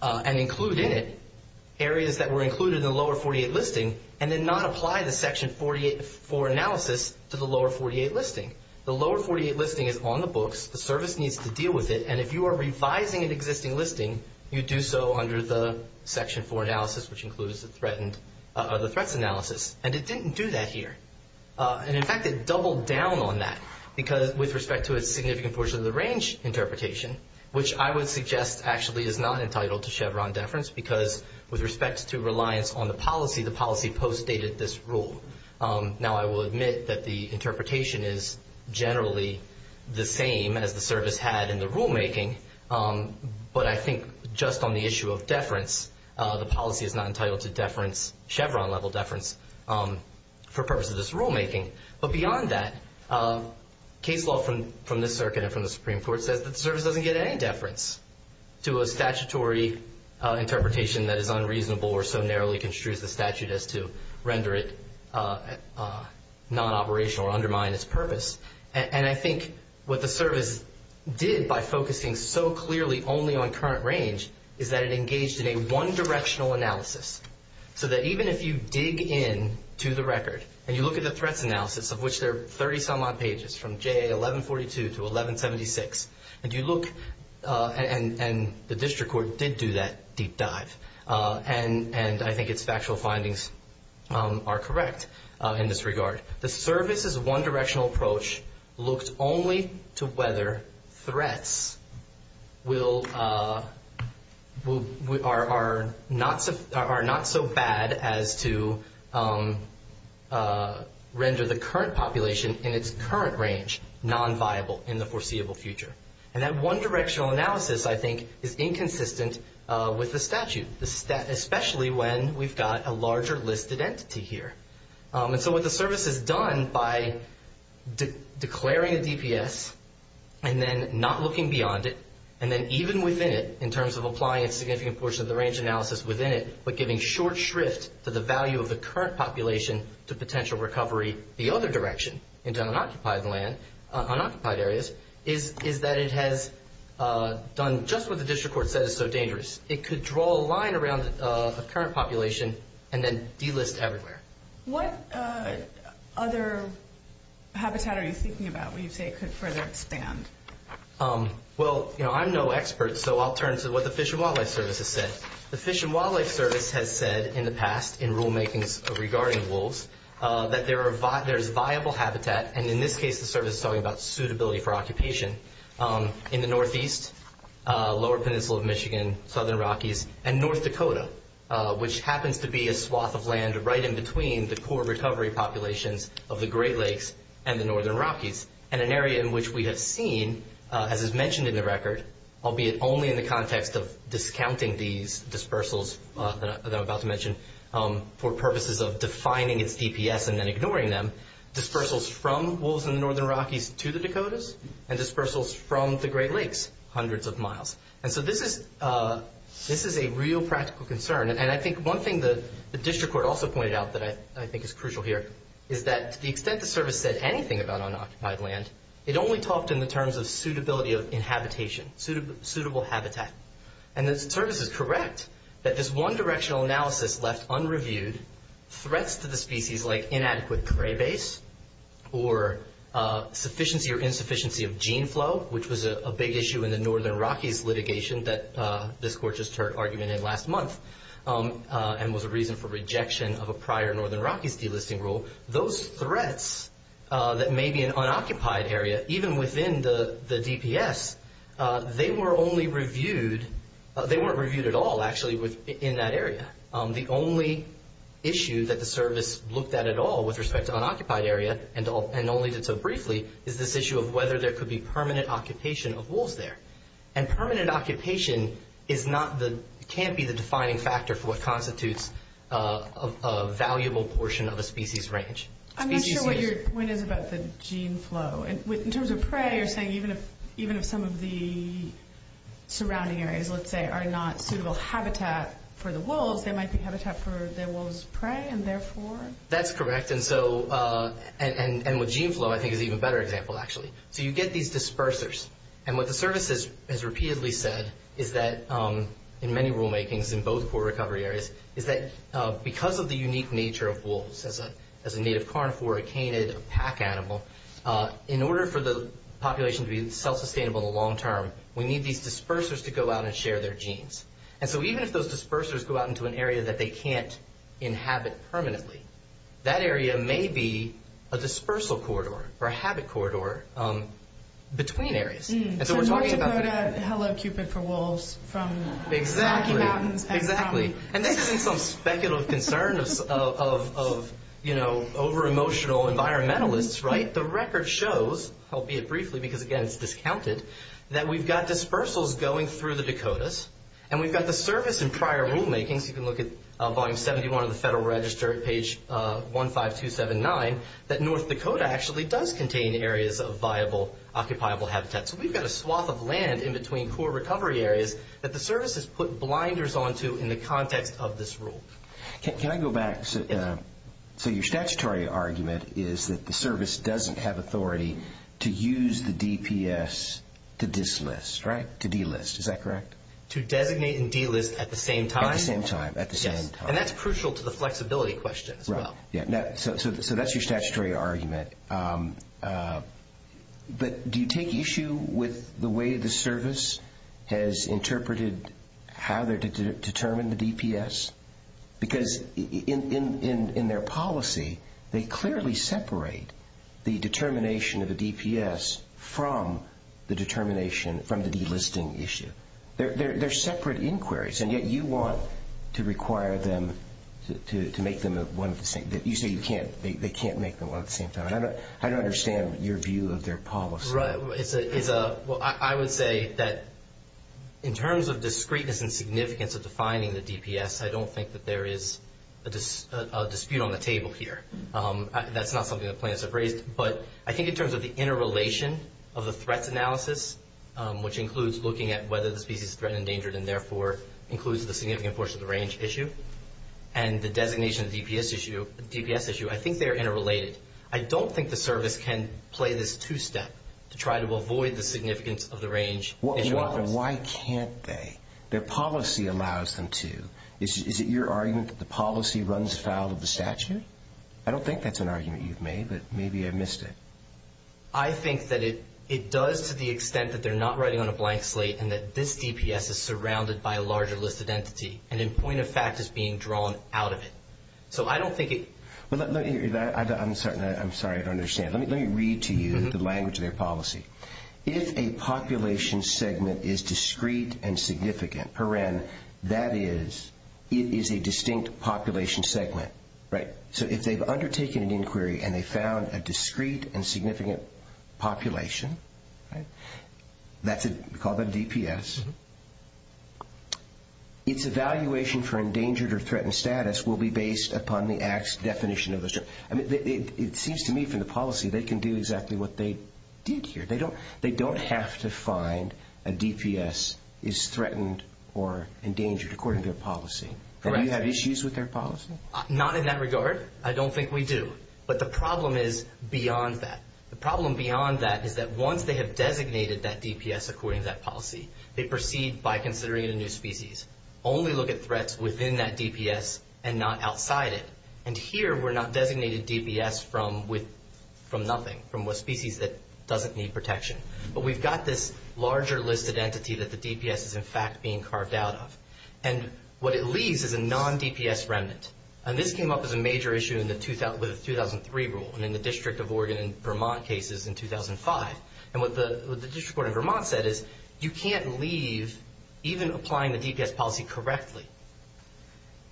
and include in it areas that were included in the lower 48 listing and then not apply the Section 48 for analysis to the lower 48 listing. The lower 48 listing is on the books. The service needs to deal with it, and if you are revising an existing listing, you do so under the Section 4 analysis, which includes the threat analysis, and it didn't do that here. And in fact, it doubled down on that because with respect to a significant portion of the range interpretation, which I would suggest actually is not entitled to Chevron deference because with respect to reliance on the policy, the policy postdated this rule. Now, I will admit that the interpretation is generally the same as the service had in the rulemaking, but I think just on the issue of deference, the policy is not entitled to Chevron level deference for purposes of rulemaking. But beyond that, case law from this circuit and from the Supreme Court says that the service doesn't get any deference to a statutory interpretation that is unreasonable or so narrowly construed as the statute as to render it non-operational or undermine its purpose. And I think what the service did by focusing so clearly only on current range is that it engaged in a one-directional analysis so that even if you dig in to the record and you look at the threat analysis of which there are 30 some odd pages from JA 1142 to 1176, and you look and the district court did do that deep dive, and I think its factual findings are correct in this regard. The service's one-directional approach looks only to whether threats are not so bad as to render the current population in its current range non-viable in the foreseeable future. And that one-directional analysis, I think, is inconsistent with the statute, especially when we've got a larger listed entity here. And so what the service has done by declaring a DPS and then not looking beyond it and then even within it in terms of applying a significant portion of the range analysis within it but giving short shrift to the value of the current population to potential recovery the other direction into unoccupied land, unoccupied areas, is that it has done just what the district court said is so dangerous. It could draw a line around the current population and then delist everywhere. What other habitat are you thinking about when you say it could further expand? Well, I'm no expert, so I'll turn to what the Fish and Wildlife Service has said. The Fish and Wildlife Service has said in the past in rulemaking regarding wolves that there is viable habitat, and in this case the service is talking about suitability for occupation. In the northeast, lower peninsula of Michigan, southern Rockies, and North Dakota, which happens to be a swath of land right in between the core recovery population of the Great Lakes and the northern Rockies. And an area in which we have seen, as is mentioned in the record, albeit only in the context of discounting these dispersals that I'm about to mention for purposes of defining a DPS and then ignoring them, dispersals from wolves in the northern Rockies to the Dakotas and dispersals from the Great Lakes hundreds of miles. And so this is a real practical concern. And I think one thing the district court also pointed out that I think is crucial here is that the extent the service said anything about unoccupied land, it only talked in the terms of suitability of inhabitation, suitable habitat. And the service is correct that this one directional analysis left unreviewed threats to the species like inadequate prey base or insufficiency of gene flow, which was a big issue in the northern Rockies litigation that this court just heard argument in last month and was a reason for rejection of a prior northern Rockies delisting rule. Those threats that may be an unoccupied area, even within the DPS, they weren't reviewed at all actually in that area. The only issue that the service looked at at all with respect to unoccupied areas, and only did so briefly, is this issue of whether there could be permanent occupation of wolves there. And permanent occupation can't be the defining factor for what constitutes a valuable portion of a species range. I'm not sure what your point is about the gene flow. In terms of prey, you're saying even if some of the surrounding areas, let's say, are not suitable habitat for the wolves, there might be habitat for the wolves' prey and therefore? That's correct. And with gene flow, I think it's even better example actually. So you get these dispersers. And what the service has repeatedly said is that in many rulemakings in both poor recovery areas, is that because of the unique nature of wolves as a native carnivore, a canid, a pack animal, in order for the population to be self-sustainable in the long term, we need these dispersers to go out and share their genes. And so even if those dispersers go out into an area that they can't inhabit permanently, that area may be a dispersal corridor or a habit corridor between areas. And so we're talking about... Hello Cupid for wolves from... Exactly. And this is some speculative concern of over-emotional environmentalists, right? The record shows, albeit briefly because, again, it's discounted, that we've got dispersals going through the Dakotas. And we've got the service in prior rulemaking. If you can look at Volume 71 of the Federal Register, page 15279, that North Dakota actually does contain areas of viable, occupiable habitats. So we've got a swath of land in between poor recovery areas that the service has put blinders onto in the context of this rule. Can I go back? So your statutory argument is that the service doesn't have authority to use the DPS to delist, right? To delist, is that correct? To designate and delist at the same time. At the same time, at the same time. And that's crucial to the flexibility question as well. So that's your statutory argument. But do you take issue with the way the service has interpreted how they're to determine the DPS? Because in their policy, they clearly separate the determination of the DPS from the determination from the delisting issue. They're separate inquiries, and yet you want to require them to make them one at the same time. You say you can't. They can't make them one at the same time. I don't understand your view of their policy. Right. I would say that in terms of discreteness and significance of defining the DPS, I don't think that there is a dispute on the table here. That's not something the plaintiffs have raised. But I think in terms of the interrelation of the threat analysis, which includes looking at whether the species is threatened, endangered, and therefore includes a significant portion of the range issue, and the designation of the DPS issue, I think they're interrelated. I don't think the service can play this two-step to try to avoid the significance of the range. Why can't they? Their policy allows them to. Is it your argument that the policy runs afoul of the statute? I don't think that's an argument you've made, but maybe I missed it. I think that it does to the extent that they're not writing on a blank slate and that this DPS is surrounded by a larger listed entity and a point of fact is being drawn out of it. I'm sorry, I don't understand. Let me read to you the language of their policy. If a population segment is discrete and significant, that is, it is a distinct population segment. So if they've undertaken an inquiry and they found a discrete and significant population, call them DPS, its evaluation for endangered or threatened status will be based upon the act's definition. It seems to me from the policy they can do exactly what they did here. They don't have to find a DPS is threatened or endangered according to their policy. Do you have issues with their policy? Not in that regard. I don't think we do. But the problem is beyond that. The problem beyond that is that once they have designated that DPS according to that policy, they proceed by considering a new species. Only look at threats within that DPS and not outside it. Here we're not designating DPS from nothing, from a species that doesn't need protection. But we've got this larger list of entities that the DPS is in fact being carved out of. What it leaves is a non-DPS remnant. This came up as a major issue with the 2003 rule and in the District of Oregon and Vermont cases in 2005. What the District of Oregon and Vermont said is you can't leave even applying the DPS policy correctly.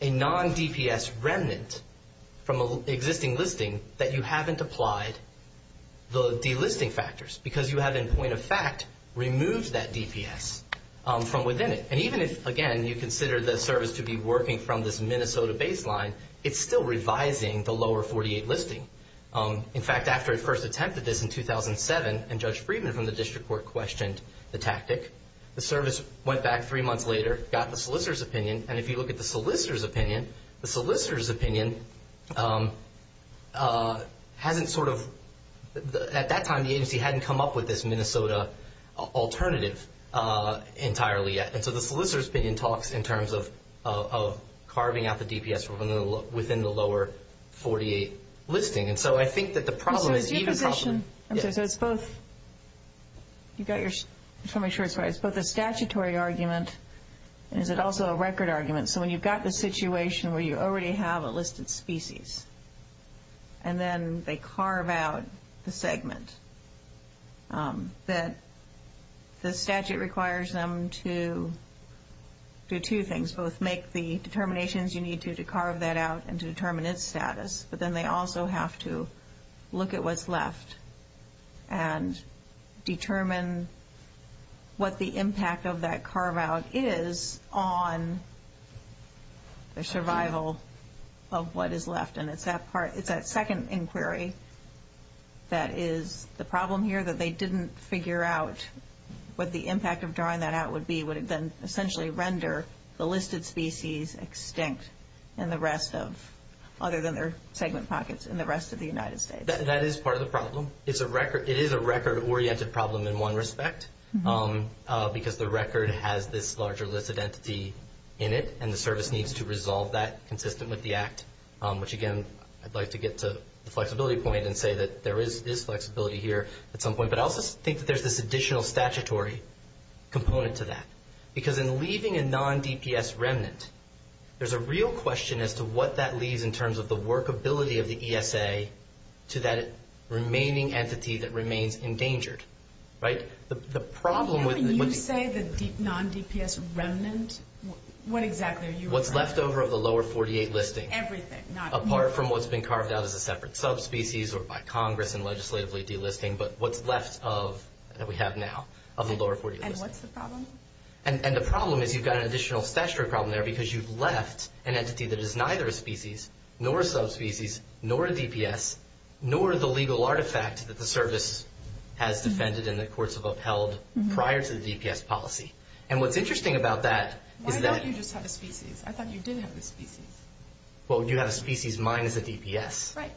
A non-DPS remnant from an existing listing that you haven't applied the delisting factors because you have in point of fact removed that DPS from within it. And even if, again, you consider the service to be working from this Minnesota baseline, it's still revising the lower 48 listing. In fact, after it first attempted this in 2007 the service went back three months later, got the solicitor's opinion. And if you look at the solicitor's opinion, the solicitor's opinion hasn't sort of... at that time the agency hadn't come up with this Minnesota alternative entirely yet. And so the solicitor's opinion talks in terms of carving out the DPS within the lower 48 listing. And so I think that the problem is... I'm sorry, so it's both... You've got your... I'm sorry, I'm sure it's right. It's both a statutory argument and it's also a record argument. So when you've got the situation where you already have a list of species and then they carve out the segments, that the statute requires them to do two things. Both make the determinations you need to to carve that out and to determine its status, but then they also have to look at what's left and determine what the impact of that carve-out is on the survival of what is left. And it's that part, it's that second inquiry that is the problem here, that they didn't figure out what the impact of drawing that out would be, would it then essentially render the listed species extinct other than their segment pockets in the rest of the United States? That is part of the problem. It is a record-oriented problem in one respect because the record has this larger listed entity in it and the service needs to resolve that consistent with the Act, which, again, I'd like to get to the flexibility point and say that there is flexibility here at some point. But I also think that there's this additional statutory component to that because in leaving a non-DPS remnant, there's a real question as to what that leaves in terms of the workability of the ESA to that remaining entity that remains endangered. Can you say the non-DPS remnant? What exactly are you referring to? What's left over of the lower 48 listings. Everything. Apart from what's been carved out as a separate sub-species or by Congress and legislatively delisting, but what's left that we have now of the lower 48. And what's the problem? And the problem is you've got an additional statutory problem there because you've left an entity that is neither a species, nor a sub-species, nor a DPS, nor the legal artifact that the service has defended in the course of upheld prior to the DPS policy. And what's interesting about that is that... I thought you just had a species. I thought you did have a species. Well, you have a species minus a DPS. Right.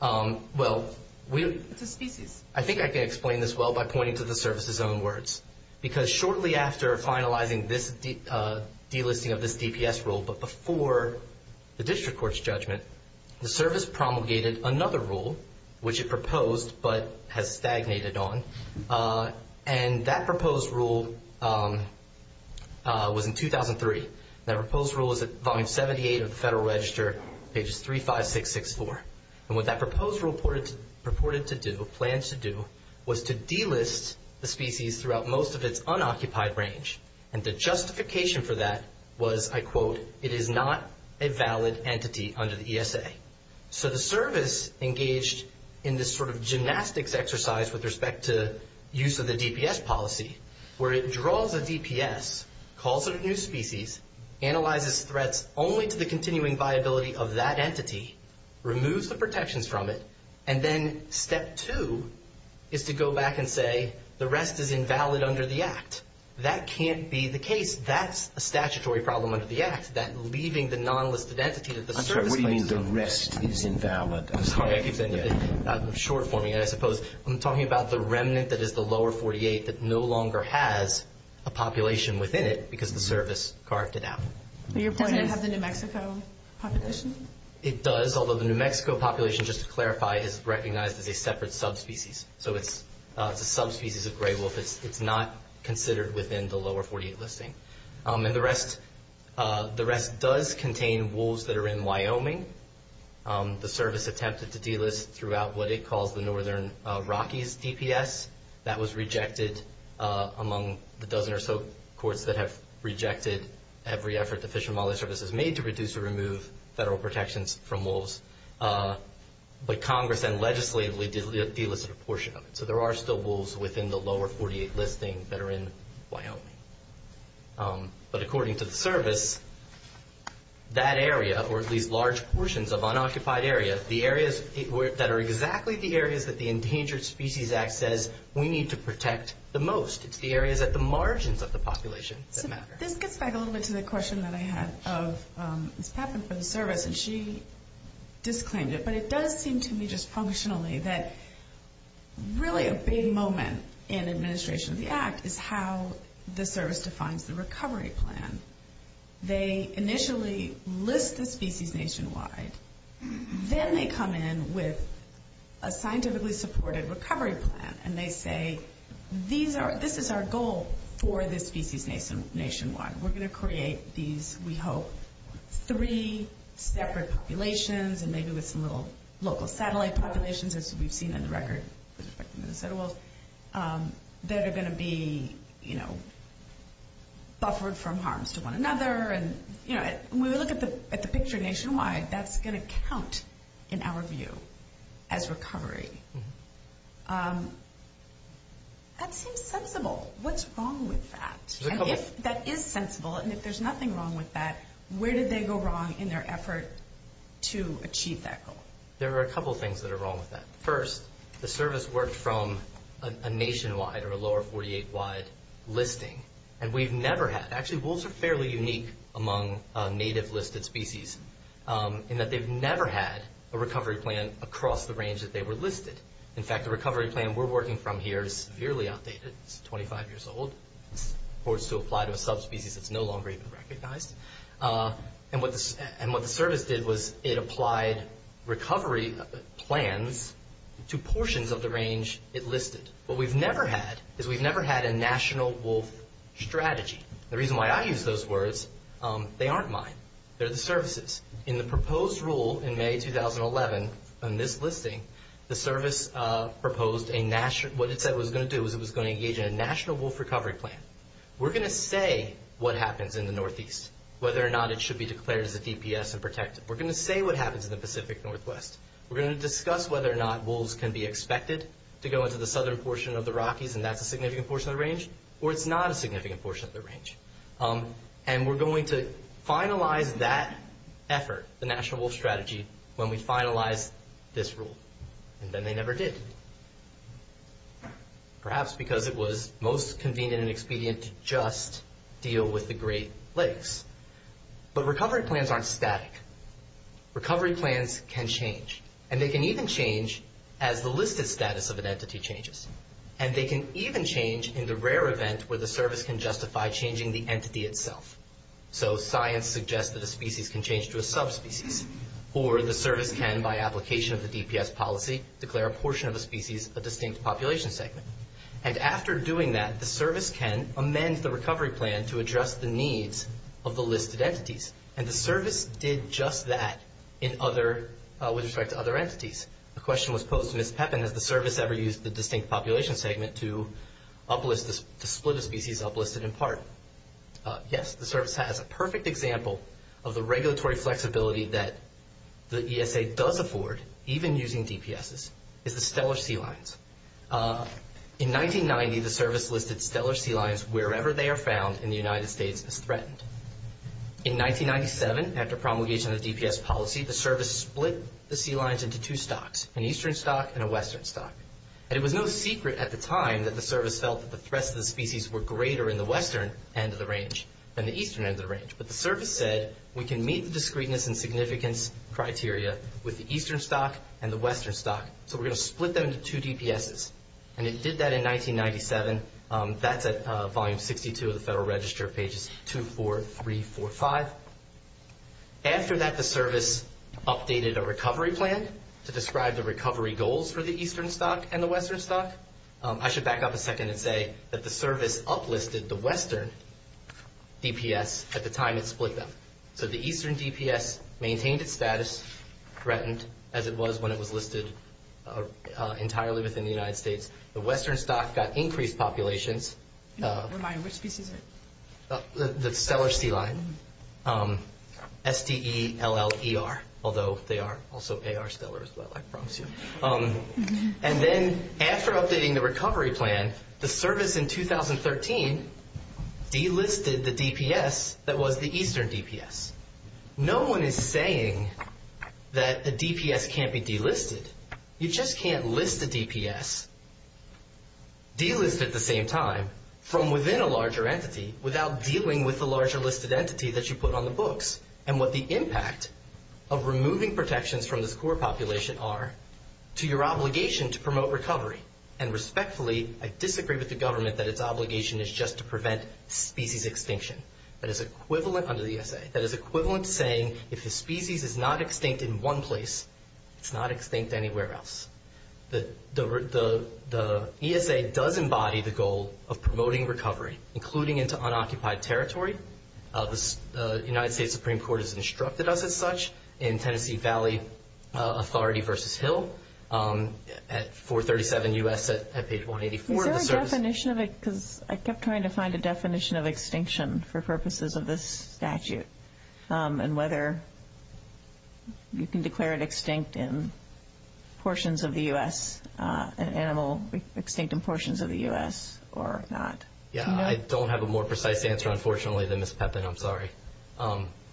Well, I think I can explain this well by pointing to the service's own words because shortly after finalizing this delisting of this DPS rule, but before the district court's judgment, the service promulgated another rule which it proposed but has stagnated on. And that proposed rule was in 2003. That proposed rule is at Volume 78 of the Federal Register, pages 3, 5, 6, 6, 4. And what that proposed rule purported to do, plans to do was to delist the species throughout most of its unoccupied range. And the justification for that was, I quote, it is not a valid entity under the ESA. So the service engaged in this sort of gymnastics exercise with respect to use of the DPS policy where it draws a DPS, calls it a new species, analyzes threats only to the continuing viability of that entity, removes the protections from it, and then step two is to go back and say the rest is invalid under the Act. That can't be the case. That's a statutory problem under the Act, that leaving the non-listed entity is the service's fault. I'm sorry. What do you mean the rest is invalid? I'm sorry. I'm talking about the remnant that is the lower 48 that no longer has a population within it because the service carved it out. Does it have the New Mexico population? It does, although the New Mexico population, just to clarify, is recognized as a separate subspecies. So the subspecies of gray wolf is not considered within the lower 48 listing. And the rest does contain wolves that are in Wyoming. The service attempted to delist throughout what it calls the Northern Rockies DPS. That was rejected among the dozen or so courts that have rejected every effort the Fish and Wildlife Service has made to reduce or remove federal protections from wolves. But Congress then legislatively delisted a portion of it. So there are still wolves within the lower 48 listing that are in Wyoming. But according to the service, that area, or at least large portions of unoccupied areas, the areas that are exactly the areas that the Endangered Species Act says we need to protect the most. It's the areas at the margins of the population that matter. This gets back a little bit to the question that I had of what happened for the service, and she disclaimed it. But it does seem to me just functionally that really a big moment in administration of the act is how the service defines the recovery plan. They initially list the species nationwide. Then they come in with a scientifically supported recovery plan, and they say this is our goal for the species nationwide. We're going to create these, we hope, three separate populations, and maybe with some little local satellite populations as we've seen on the record. They're going to be buffered from harms to one another. When we look at the picture nationwide, that's going to count in our view as recovery. That's insensible. What's wrong with that? That is sensible, and if there's nothing wrong with that, where did they go wrong in their effort to achieve that goal? There are a couple things that are wrong with that. First, the service worked from a nationwide or a lower 48-wide listing, and we've never had...actually, wolves are fairly unique among native listed species in that they've never had a recovery plan across the range that they were listed. In fact, the recovery plan we're working from here is severely outdated. It's 25 years old. It's supposed to apply to a subspecies that's no longer even recognized. What the service did was it applied recovery plans to portions of the range it listed. What we've never had is we've never had a national wolf strategy. The reason why I use those words, they aren't mine. They're the service's. In the proposed rule in May 2011, in this listing, the service proposed a national...what it said it was going to do was it was going to engage in a national wolf recovery plan. We're going to say what happens in the Northeast, whether or not it should be declared as a DPS and protected. We're going to say what happens in the Pacific Northwest. We're going to discuss whether or not wolves can be expected to go into the southern portion of the Rockies, and that's a significant portion of the range, or it's not a significant portion of the range. We're going to finalize that effort, the national wolf strategy, when we finalize this rule. Then they never did. Perhaps because it was most convenient and expedient to just deal with the Great Lakes. Recovery plans aren't static. Recovery plans can change. They can even change as the listed status of an entity changes. They can even change in the rare event where the service can justify changing the entity itself. Science suggests that a species can change to a subspecies, or the service can, by application of the DPS policy, declare a portion of a species a distinct population segment. After doing that, the service can amend the recovery plan to address the needs of the listed entities. The service did just that with respect to other entities. The question was posed, has the service ever used the distinct population segment to split a species uplisted in part? Yes, the service has a perfect example of the regulatory flexibility that the DSA does afford, even using DPSs, is the stellar sea lions. In 1990, the service listed stellar sea lions wherever they are found in the United States as threatened. In 1997, after promulgation of the DPS policy, the service split the sea lions into two stocks, an eastern stock and a western stock. It was no secret at the time that the service felt that the threats to the species were greater in the western end of the range than the eastern end of the range. But the service said, we can meet the discreteness and significance criteria with the eastern stock and the western stock, so we're going to split them into two DPSs. And it did that in 1997. That's at volume 52 of the Federal Register, pages 2, 4, 3, 4, 5. After that, the service updated a recovery plan to describe the recovery goals for the eastern stock and the western stock. I should back up a second and say that the service uplisted the western DPS at the time it split them. So the eastern DPS maintained its status, threatened, as it was when it was listed entirely within the United States. The western stock got increased populations. The stellar sea lion, S-P-E-L-L-E-R, although they are also A.R. Stellars, but I promise you. And then after updating the recovery plan, the service in 2013 delisted the DPS that was the eastern DPS. No one is saying that the DPS can't be delisted. You just can't list a DPS, delist at the same time, from within a larger entity without dealing with the larger listed entity that you put on the books and what the impact of removing protections from the score population are to your obligation to promote recovery. And respectfully, I disagree with the government that its obligation is just to prevent species extinction. That is equivalent under the ESA. That is equivalent to saying if a species is not extinct in one place, it's not extinct anywhere else. The ESA does embody the goal of promoting recovery, including into unoccupied territory. The United States Supreme Court has instructed us as such in Tennessee Valley Authority v. Hill at 437 U.S. at page 184. Is there a definition of it? Because I kept trying to find a definition of extinction for purposes of this statute and whether you can declare it extinct in portions of the U.S., an animal extinct in portions of the U.S. or not. Yeah, I don't have a more precise answer, unfortunately, than Ms. Pepin. I'm sorry.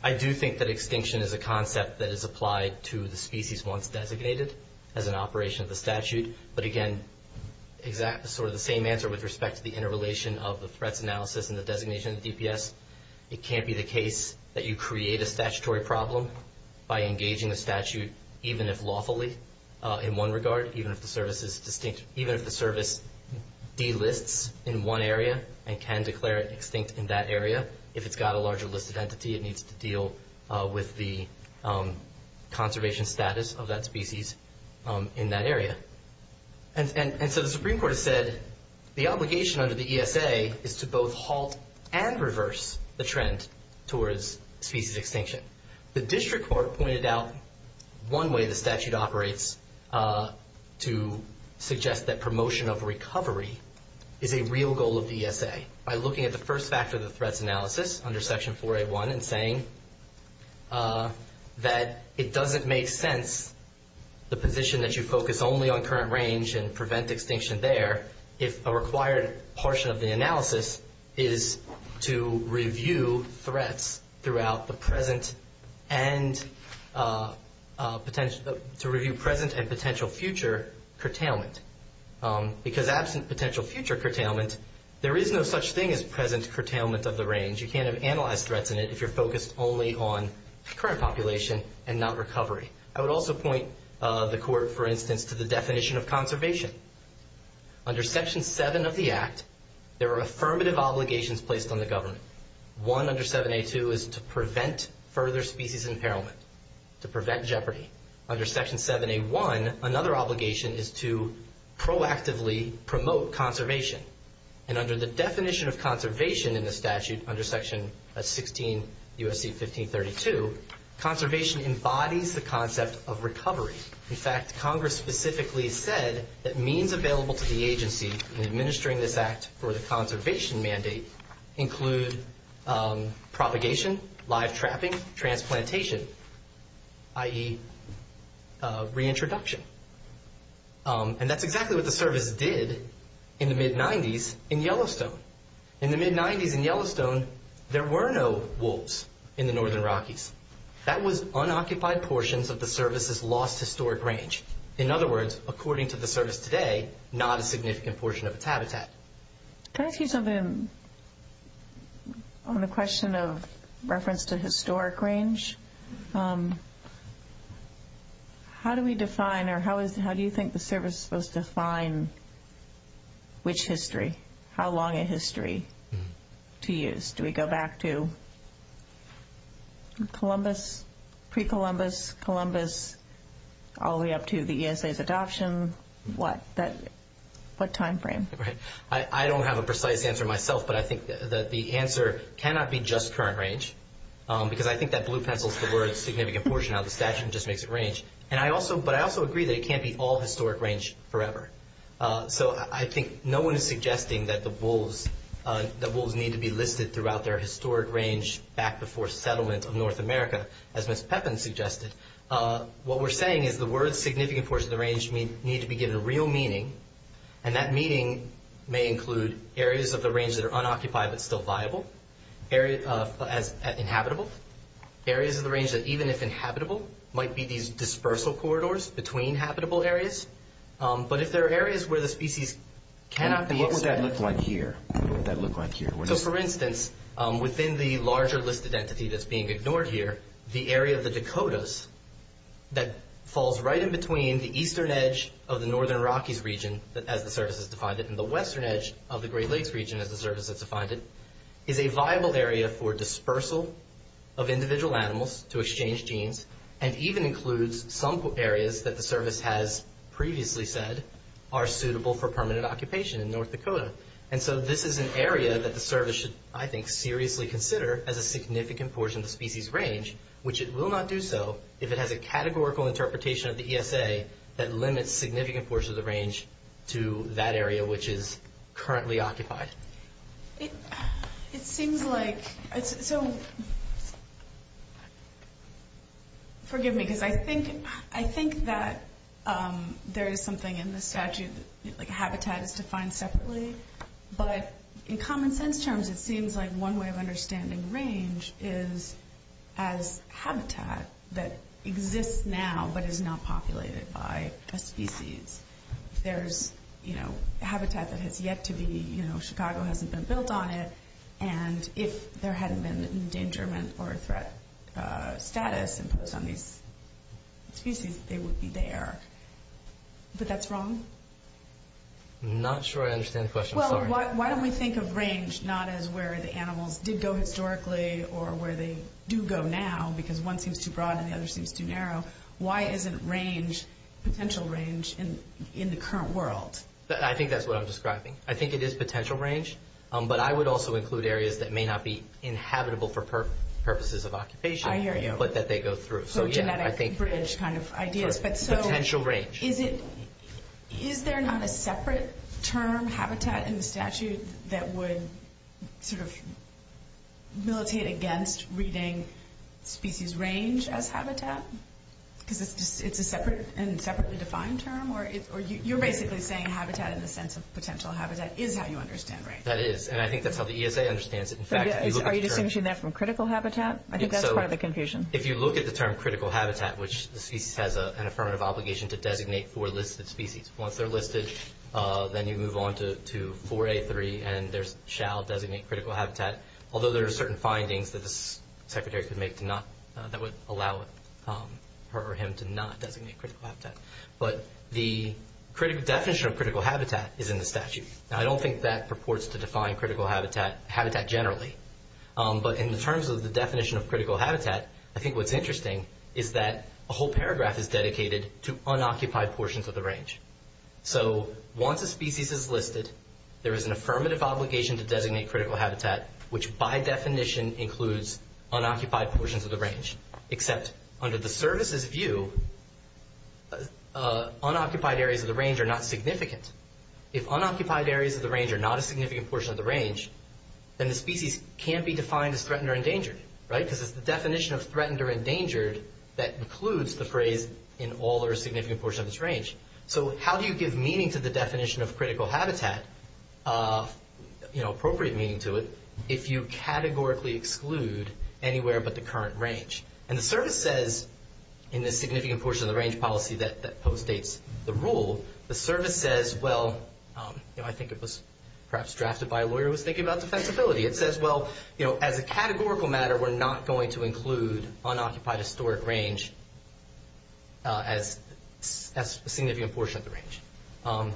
I do think that extinction is a concept that is applied to the species once designated as an operation of the statute. But again, exactly sort of the same answer with respect to the interrelation of the threat analysis and the designation of DPS. It can't be the case that you create a statutory problem by engaging the statute even if lawfully in one regard, even if the service delists in one area and can declare it extinct in that area. If it's got a larger listed entity, it needs to deal with the conservation status of that species in that area. And so the Supreme Court has said the obligation under the ESA is to both halt and reverse the trend towards species extinction. The district court pointed out one way the statute operates is to suggest that promotion of recovery is a real goal of the ESA by looking at the first factor of the threat analysis under Section 4A1 and saying that it doesn't make sense, the position that you focus only on current range and prevent extinction there, if the required portion of the analysis is to review threats throughout the present and potential future curtailment. Because absent potential future curtailment, there is no such thing as present curtailment of the range. You can't analyze threats in it if you're focused only on current population and not recovery. I would also point the court, for instance, to the definition of conservation. Under Section 7 of the Act, there are affirmative obligations placed on the government. One under 7A2 is to prevent further species impairment, to prevent jeopardy. Under Section 7A1, another obligation is to proactively promote conservation. And under the definition of conservation in the statute, under Section 16 U.S.C. 1532, conservation embodies the concept of recovery. In fact, Congress specifically said that means available to the agency in administering this act for the conservation mandate include propagation, live trapping, transplantation, i.e. reintroduction. And that's exactly what the service did in the mid-'90s in Yellowstone. In the mid-'90s in Yellowstone, there were no wolves in the northern Rockies. That was unoccupied portions of the service's lost historic range. In other words, according to the service today, not a significant portion of its habitat. Can I ask you something on the question of reference to historic range? How do we define or how do you think the service is supposed to define which history? How long a history to use? Do we go back to Columbus, pre-Columbus, Columbus, all the way up to the ESA's adoption? What time frame? Right. I don't have a precise answer myself, but I think that the answer cannot be just current range because I think that blue pencil subverts a significant portion of how the statute just makes it range. But I also agree that it can't be all historic range forever. I think no one is suggesting that the wolves need to be listed throughout their historic range back before settlement of North America, as Ms. Pepin suggested. What we're saying is the words significant portions of the range need to be given a real meaning, and that meaning may include areas of the range that are unoccupied but still viable, areas inhabitable, areas of the range that even if inhabitable might be these dispersal corridors between habitable areas. But if there are areas where the species cannot be... What would that look like here? What would that look like here? For instance, within the larger listed entities that's being ignored here, the area of the Dakotas that falls right in between the eastern edge of the northern Iraqis region, as the service has defined it, and the western edge of the Great Lakes region, as the service has defined it, is a viable area for dispersal of individual animals to exchange genes and even includes some areas that the service has previously said are suitable for permanent occupation in North Dakota. This is an area that the service should, I think, seriously consider as a significant portion of the species range, which it will not do so if it has a categorical interpretation of the ESA that limits significant portions of the range to that area which is currently occupied. It seems like... Forgive me, because I think that there is something in the statute, like habitat is defined separately, but in common sense terms, it seems like one way of understanding range is as habitat that exists now, but is not populated by a species. There's habitat that has yet to be, you know, Chicago hasn't been built on it, and if there hadn't been an endangerment or a threat status imposed on these species, they would be there. But that's wrong? I'm not sure I understand the question. Well, why don't we think of range not as where the animals did go historically or where they do go now, why isn't range, potential range, in the current world? I think that's what I'm describing. I think it is potential range, but I would also include areas that may not be inhabitable for purposes of occupation. I hear you. But that they go through. So you're not at the bridge kind of idea. Potential range. Is there not a separate term, habitat, in the statute that would sort of militate against reading species range as habitat? Is it a separately defined term? You're basically saying habitat in the sense of potential habitat is how you understand range. That is, and I think that's how the ESA understands it. Are you distinguishing that from critical habitat? I think that's part of the confusion. If you look at the term critical habitat, which the species has an affirmative obligation to designate four listed species. Once they're listed, then you move on to 4A3, and there's shall designate critical habitat, although there are certain findings that the Secretary could make that would allow him to not designate critical habitat. But the definition of critical habitat is in the statute. Now, I don't think that purports to define critical habitat generally, but in terms of the definition of critical habitat, I think what's interesting is that a whole paragraph is dedicated to unoccupied portions of the range. Once a species is listed, there is an affirmative obligation to designate critical habitat, which by definition includes unoccupied portions of the range, except under the services view, unoccupied areas of the range are not significant. If unoccupied areas of the range are not a significant portion of the range, then the species can't be defined as threatened or endangered, right? Because it's the definition of threatened or endangered that includes the phrase, in all or a significant portion of this range. So how do you give meaning to the definition of critical habitat, appropriate meaning to it, if you categorically exclude anywhere but the current range? And the service says, in the significant portion of the range policy that postdates the rule, the service says, well, I think it was perhaps drafted by a lawyer who was thinking about the sensibility. It says, well, you know, as a categorical matter, we're not going to include unoccupied historic range as a significant portion of the range.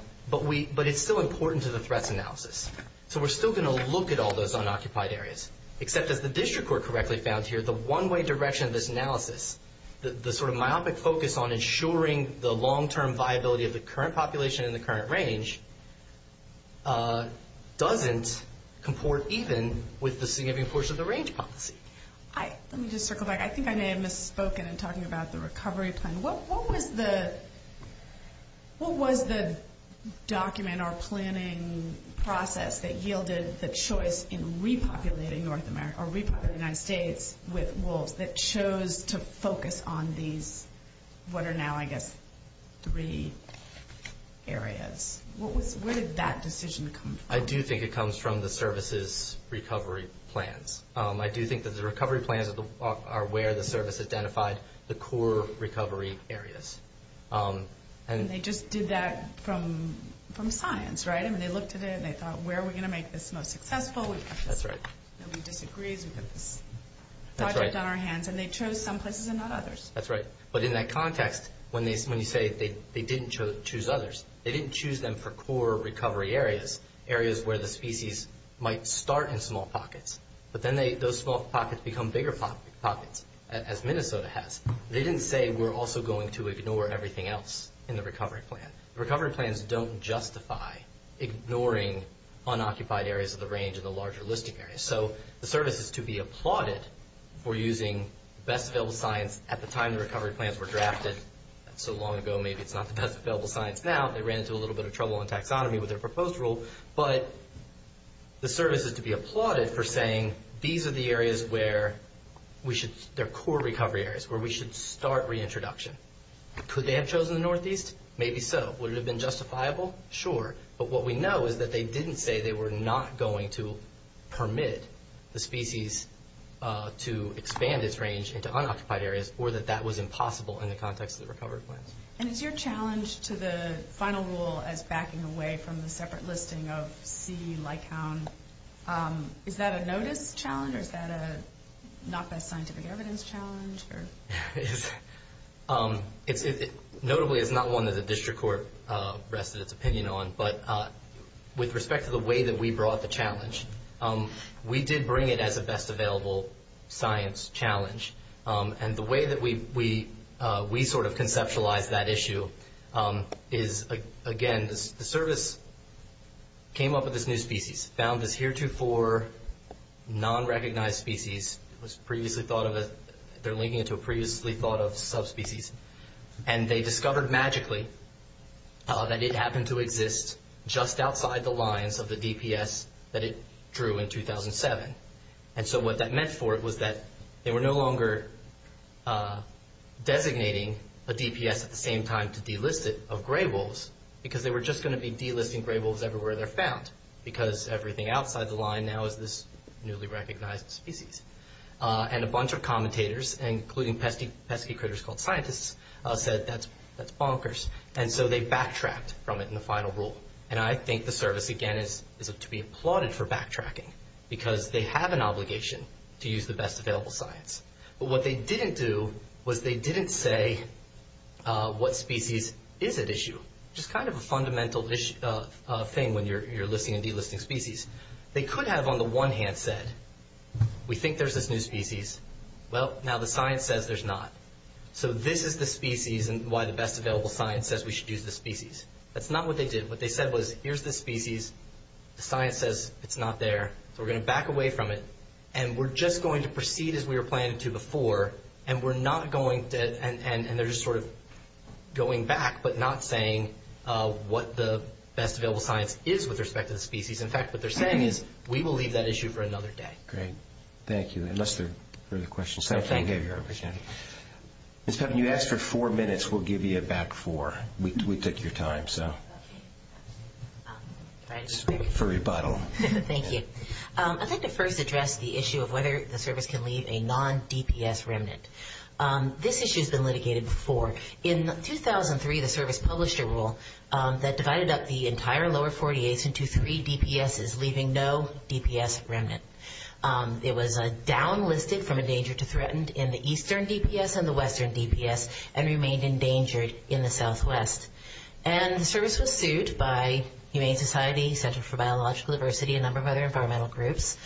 But it's still important to the threat analysis. So we're still going to look at all those unoccupied areas, except that the district court correctly found here the one-way direction of this analysis, the sort of myopic focus on ensuring the long-term viability of the current population and the current range doesn't comport even with the significant portion of the range policy. Let me just circle back. I think I may have misspoken in talking about the recovery plan. What was the document or planning process that yielded the choice in repopulating North America or repopulating the United States with wolves that chose to focus on these, what are now, I guess, three areas? Where did that decision come from? I do think it comes from the services recovery plans. I do think that the recovery plans are where the service identified the core recovery areas. And they just did that from science, right? And they looked at it and they thought, where are we going to make this most successful? That's right. And we disagreed with them. That's right. And they chose some places and not others. That's right. But in that context, when you say they didn't choose others, they didn't choose them for core recovery areas, areas where the species might start in small pockets. But then those small pockets become bigger pockets, as Minnesota has. They didn't say we're also going to ignore everything else in the recovery plan. Recovery plans don't justify ignoring unoccupied areas of the range in the larger listing areas. So the service is to be applauded for using best available science at the time the recovery plans were drafted. So long ago, maybe it's not the best available science now. They ran into a little bit of trouble on taxonomy with their proposed rule. But the service is to be applauded for saying these are the areas where we should, they're core recovery areas where we should start reintroduction. Could they have chosen the Northeast? Maybe so. Would it have been justifiable? Sure. But what we know is that they didn't say they were not going to permit the species to expand its range into unoccupied areas or that that was impossible in the context of the recovery plan. And is your challenge to the final rule as backing away from the separate listing of CU-Lycoun, is that a noted challenge or is that a not by scientific evidence challenge? Notably, it's not one that the district court rested its opinion on. But with respect to the way that we brought the challenge, we did bring it as a best available science challenge. And the way that we sort of conceptualized that issue is, again, the service came up with this new species, found this heretofore non-recognized species that was previously thought of as, they're linking it to a previously thought of subspecies. And they discovered magically that it happened to exist just outside the lines of the DPS that it drew in 2007. And so what that meant for it was that they were no longer designating a DPS at the same time to delist it of gray wolves because they were just going to be delisting gray wolves everywhere they're found because everything outside the line now is this newly recognized species. And a bunch of commentators, including pesky critters called scientists, said that's bonkers. And so they backtracked from it in the final rule. And I think the service, again, is to be applauded for backtracking because they have an obligation to use the best available science. But what they didn't do was they didn't say what species is at issue, which is kind of a fundamental thing when you're listing and delisting species. They could have, on the one hand, said, we think there's a new species. Well, now the science says there's not. So this is the species and why the best available science says we should use the species. That's not what they did. What they said was, here's the species. The science says it's not there. We're going to back away from it. And we're just going to proceed as we were planning to before. And we're not going to, and they're just sort of going back but not saying what the best available science is with respect to the species. In fact, what they're saying is we will leave that issue for another day. Great. Thank you. Unless there are further questions. Thank you. Ms. Duncan, you asked for four minutes. We'll give you back four. We took your time, so. For rebuttal. Thank you. I'd like to first address the issue of whether the service can leave a non-DPS remnant. This issue has been litigated before. In 2003, the service published a rule that divided up the entire lower 48th into three DPSs, leaving no DPS remnant. It was downlisted from a major to threatened in the eastern DPS and the western DPS and remained endangered in the southwest. And the service was sued by Humane Society, Center for Biological Diversity, and a number of other environmental groups.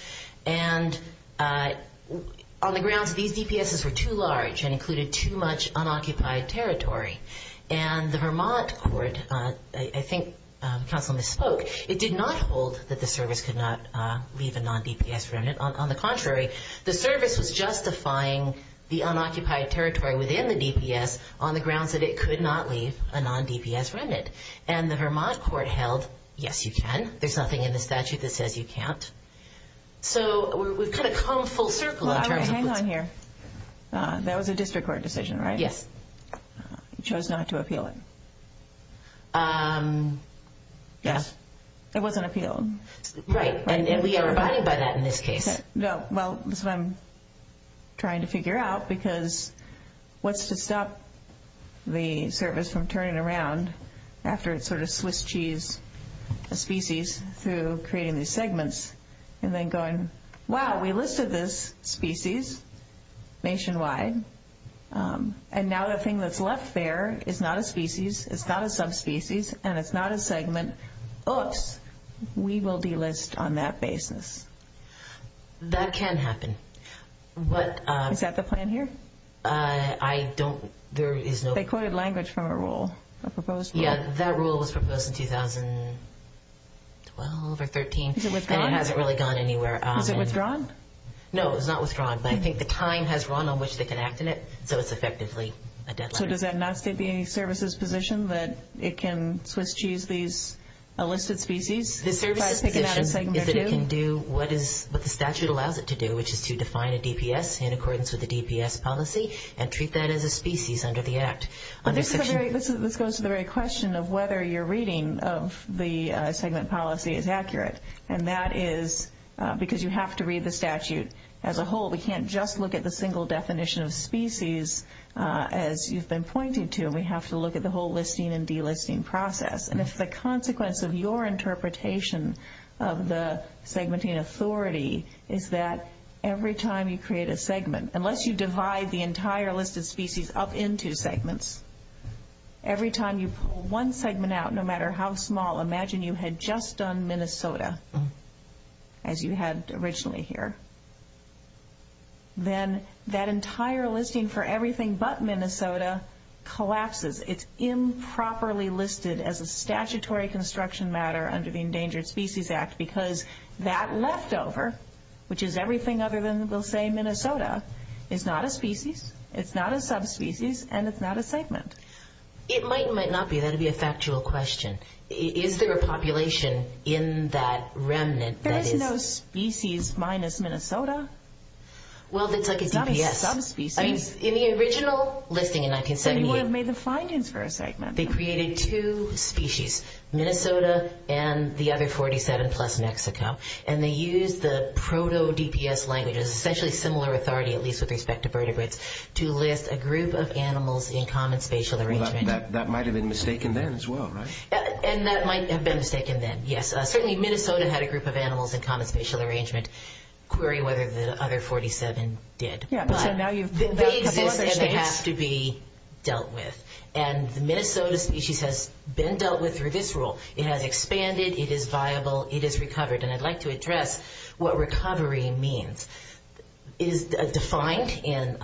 And on the ground, these DPSs were too large and included too much unoccupied territory. And the Vermont court, I think Councilman spoke, it did not hold that the service could not leave a non-DPS remnant. On the contrary, the service was justifying the unoccupied territory within the DPS on the grounds that it could not leave a non-DPS remnant. And the Vermont court held, yes, you can. There's nothing in the statute that says you can't. So we've kind of come full circle. Hang on here. That was a district court decision, right? Yes. Chose not to appeal it. Yes. It wasn't appealed. Right. And we are divided by that in this case. Well, this is what I'm trying to figure out, because what's to stop the service from turning around after it's sort of Swiss cheese species to creating these segments and then going, wow, we listed this species nationwide, and now the thing that's left there is not a species, it's not a subspecies, and it's not a segment. Oops. We will delist on that basis. That can happen. Is that the plan here? I don't – there is no – They quoted language from a rule, a proposed rule. Yes, that rule was proposed in 2012 or 13. Is it withdrawn? It hasn't really gone anywhere. Is it withdrawn? No, it was not withdrawn, but I think the time has run on which they can act on it, so it's effectively a deadline. So does that not state the services position that it can Swiss cheese these listed species? The services position is that it can do what the statute allows it to do, which is to define a DPS in accordance with the DPS policy and treat that as a species under the Act. This goes to the very question of whether your reading of the segment policy is accurate, and that is because you have to read the statute as a whole. We can't just look at the single definition of species as you've been pointing to. We have to look at the whole listing and delisting process, and it's the consequence of your interpretation of the segmenting authority is that every time you create a segment, unless you divide the entire listed species up into segments, every time you pull one segment out, no matter how small, imagine you had just done Minnesota as you had originally here, then that entire listing for everything but Minnesota collapses. It's improperly listed as a statutory construction matter under the Endangered Species Act because that leftover, which is everything other than, we'll say, Minnesota, is not a species, it's not a subspecies, and it's not a segment. It might and might not be. That would be a factual question. Is there a population in that remnant that is... There is no species minus Minnesota. Well, it's like a DPS. Not a subspecies. In the original listing, and I can say more... But he had made the findings for a segment. They created two species, Minnesota and the other 47-plus, Mexico, and they used the proto-DPS language, an especially similar authority at least with respect to vertebrates, to list a group of animals in common spatial arrangement. That might have been mistaken then as well, right? And that might have been mistaken then, yes. Certainly Minnesota had a group of animals in common spatial arrangement. Query whether the other 47 did. But they exist and they have to be dealt with. And the Minnesota species has been dealt with through this rule. It has expanded. It is viable. It is recovered. And I'd like to address what recovery means. It is defined in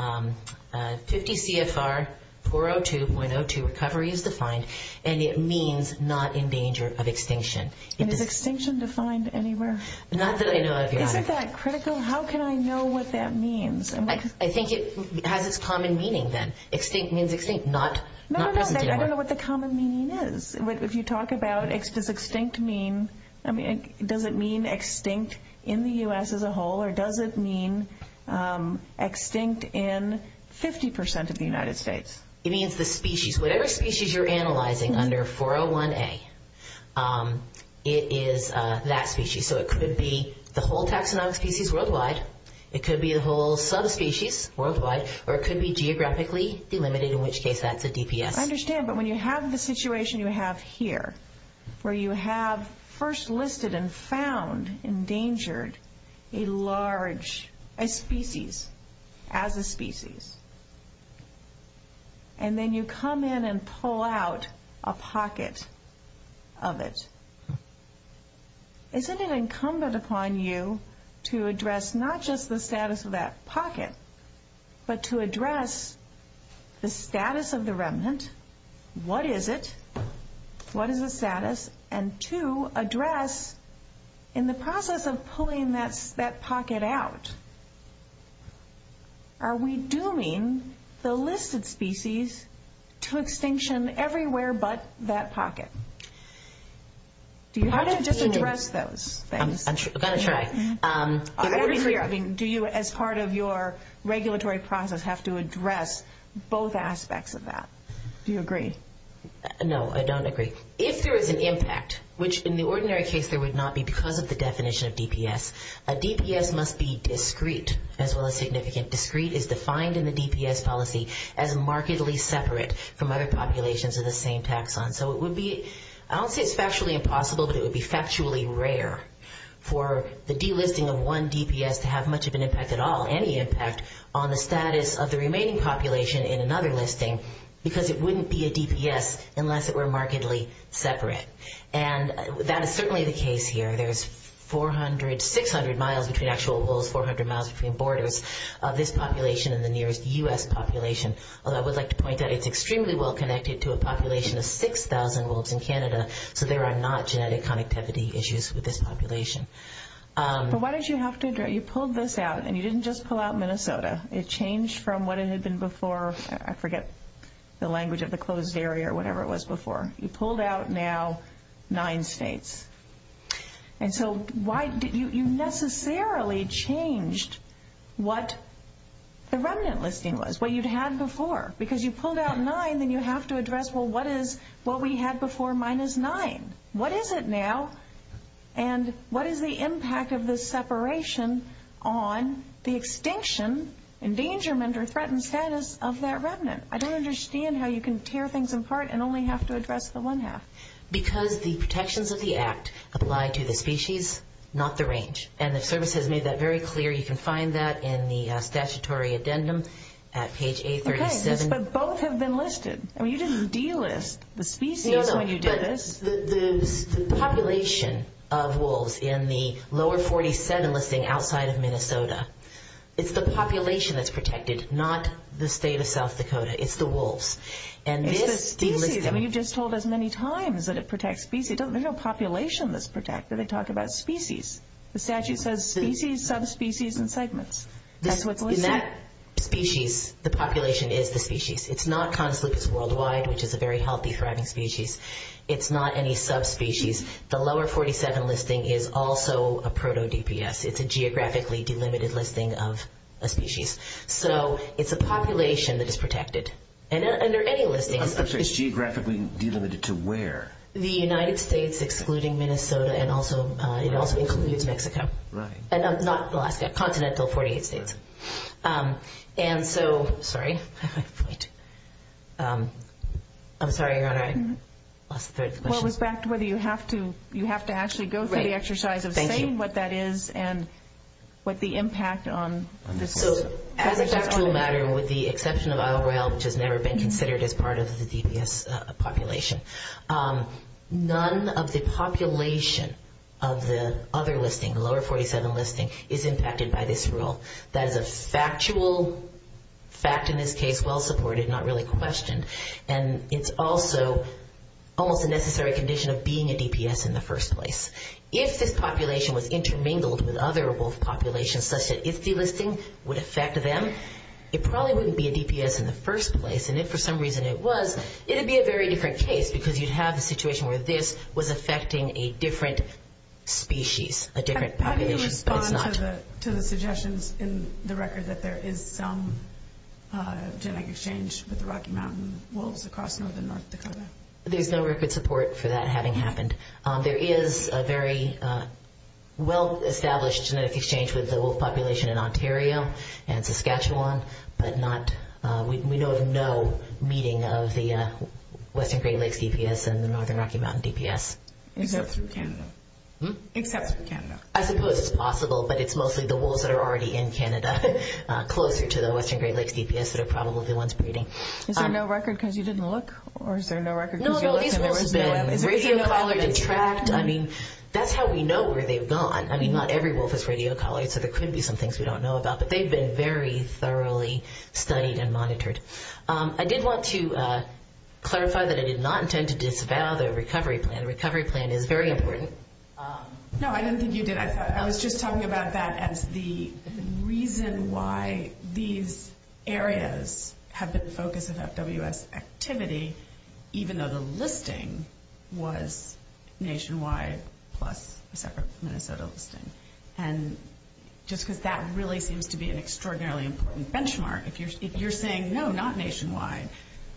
50 CFR 402.02, recovery is defined, and it means not in danger of extinction. And is extinction defined anywhere? Not that I know of, yeah. Is it that critical? How can I know what that means? I think it has a common meaning then. Extinct means extinct. No, no, I don't know what the common meaning is. If you talk about does extinct mean extinct in the U.S. as a whole or does it mean extinct in 50% of the United States? It means the species. Whatever species you're analyzing under 401A, it is that species. So it could be the whole taxonomic species worldwide, it could be the whole subspecies worldwide, or it could be geographically delimited, in which case that's a DPS. I understand. But when you have the situation you have here, where you have first listed and found endangered a large species as a species, and then you come in and pull out a pocket of it, isn't it incumbent upon you to address not just the status of that pocket, but to address the status of the remnant? What is it? What is its status? And, two, address in the process of pulling that pocket out, are we dooming the listed species to extinction everywhere but that pocket? Do you have to just address those things? I'm going to try. I agree. Do you, as part of your regulatory process, have to address both aspects of that? Do you agree? No, I don't agree. If there is an impact, which in the ordinary case there would not be because of the definition of DPS, a DPS must be discrete as well as significant. Discrete is defined in the DPS policy as markedly separate from other populations of the same taxon. So it would be, I don't say it's factually impossible, but it would be factually rare for the delisting of one DPS to have much of an impact at all, any impact, on the status of the remaining population in another listing because it wouldn't be a DPS unless it were markedly separate. And that is certainly the case here. There's 400, 600 miles, if the actual rule is 400 miles between borders, of this population and the nearest U.S. population. Although I would like to point out it's extremely well connected to a population of 6,000 wolves in Canada, so there are not genetic connectivity issues with this population. So what did you have to address? You pulled this out, and you didn't just pull out Minnesota. It changed from what it had been before. I forget the language of the closed barrier, whatever it was before. You pulled out now nine states. And so you necessarily changed what the remnant listing was, what you'd had before. Because you pulled out nine, and you have to address, well, what is what we had before minus nine? What is it now? And what is the impact of this separation on the extinction and endangerment or threatened status of that remnant? I don't understand how you can tear things apart and only have to address the one half. Because the protections of the Act apply to the species, not the range. And the service has made that very clear. You can find that in the statutory addendum at page 837. Okay, but both have been listed. I mean, you didn't delist the species when you did this. No, no. The population of wolves in the lower 47 listing outside of Minnesota, it's the population that's protected, not the state of South Dakota. It's the wolves. It's the species. I mean, you just told us many times that it protects species. They don't know population that's protected. They talk about species. The statute says species, subspecies, and segments. In that species, the population is the species. It's not conflicts worldwide, which is a very healthy thriving species. It's not any subspecies. The lower 47 listing is also a proto-DPS. It's a geographically delimited listing of a species. So it's a population that is protected. And under any listing. I'm sorry, it's geographically delimited to where? The United States, excluding Minnesota, and it also includes Mexico. Not Alaska, continental 48 states. And so, sorry. I'm sorry, I lost the question. Well, it was back to whether you have to actually go through the exercise of saying what that is and what the impact on this is. As a factual matter, with the exception of Isle Royale, which has never been considered as part of the DPS population, none of the population of the other listing, the lower 47 listing, is impacted by this rule. That is a factual fact in this case, well supported, not really questioned. And it's also almost a necessary condition of being a DPS in the first place. If this population was intermingled with other wolf populations, such that if delisting would affect them, it probably wouldn't be a DPS in the first place. And if for some reason it was, it would be a very different case because you'd have a situation where this was affecting a different species, a different population. How do you respond to the suggestions in the record that there is some genetic exchange with the Rocky Mountain wolves across northern North Dakota? There's no record support for that having happened. There is a very well-established genetic exchange with the wolf population in Ontario and Saskatchewan, but we know of no meeting of the Western Great Lakes DPS and the Northern Rocky Mountain DPS. Except for Canada. I suppose it's possible, but it's mostly the wolves that are already in Canada, closer to the Western Great Lakes DPS that are probably the ones breeding. Is there no record because you didn't look? No, the wolves have been radio collared and tracked. I mean, that's how we know where they've gone. I mean, not every wolf is radio collared, so there could be some things we don't know about, but they've been very thoroughly studied and monitored. I did want to clarify that I did not intend to disavow the recovery plan. The recovery plan is very important. No, I didn't think you did. I was just talking about that as the reason why these areas have been focused about WS activity, even though the listing was nationwide plus a separate Minnesota listing. Just because that really seems to be an extraordinarily important benchmark. If you're saying, no, not nationwide,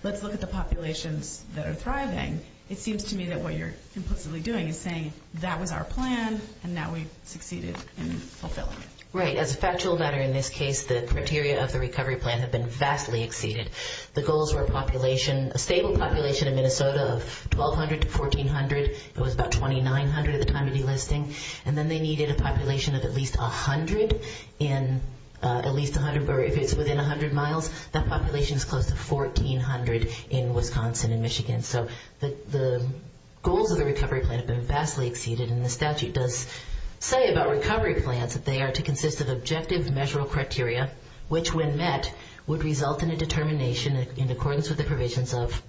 let's look at the populations that are thriving, it seems to me that what you're implicitly doing is saying that was our plan and that we succeeded. Right. As a factual matter in this case, the criteria of the recovery plan have been vastly exceeded. The goals were a stable population in Minnesota of 1,200 to 1,400. It was about 2,900 at the time of the listing, and then they needed a population of at least 100. If it's within 100 miles, that population is close to 1,400 in Wisconsin and Michigan. The goals of the recovery plan have been vastly exceeded, and the statute does say about recovery plans that they are to consist of objective measurable criteria, which when met would result in a determination in accordance with the provisions of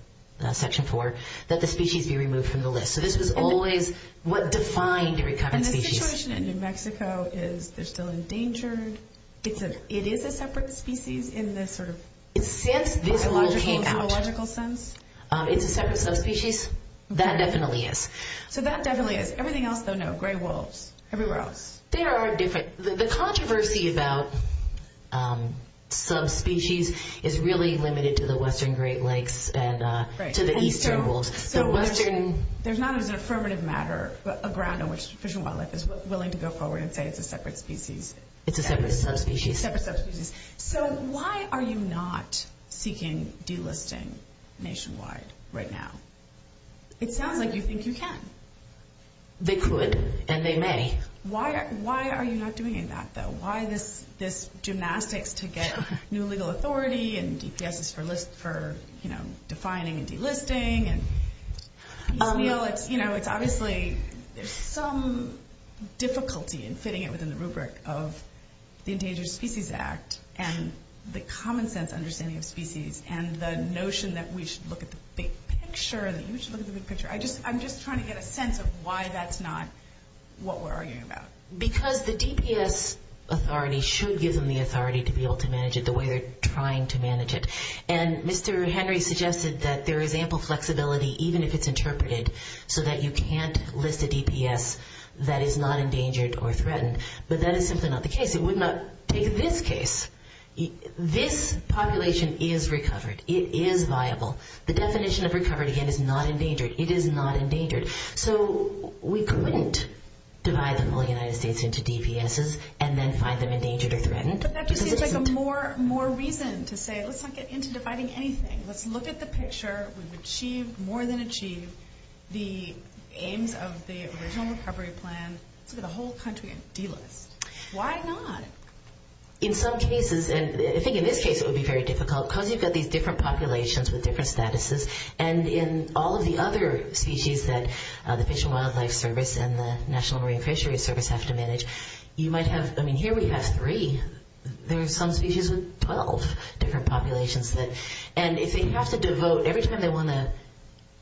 Section 4 that the species be removed from the list. This is always what defines a recovered species. The situation in New Mexico is they're still endangered. It is a separate species in the sort of biological sense? It's a separate subspecies? That definitely is. That definitely is. Everything else, though, no. Gray wolves. Everywhere else. The controversy about subspecies is really limited to the western Great Lakes and to the eastern wolves. There's not an affirmative matter, a ground on which Fish and Wildlife is willing to go forward and say it's a separate species. It's a separate subspecies. Why are you not seeking delisting nationwide right now? It sounds like you think you can. They could, and they may. Why are you not doing that, though? Why this gymnastics to get new legal authority and DPSs for defining and delisting? It's obviously some difficulty in fitting it within the rubric of the Endangered Species Act and the common sense understanding of species and the notion that we should look at the big picture. I'm just trying to get a sense of why that's not what we're arguing about. Because the DPS authority should give them the authority to be able to manage it the way they're trying to manage it. And Mr. Henry suggested that there is ample flexibility, even if it's interpreted, so that you can't list a DPS that is not endangered or threatened. But that is simply not the case. It would not take this case. This population is recovered. It is viable. The definition of recovered, again, is not endangered. It is not endangered. So we couldn't divide the whole United States into DPSs and then find them endangered or threatened. But that just seems like a more reason to say, let's not get into dividing anything. Let's look at the picture. We've achieved, more than achieved, the aims of the original recovery plan. Look at the whole country and delist. Why not? In some cases, and I think in this case it would be very difficult, because you've got these different populations with different statuses. And in all of the other species that the Fish and Wildlife Service and the National Marine Fisheries Service have to manage, you might have, I mean, here we have three. There are some species with 12 different populations. And if they have to devote every time they want to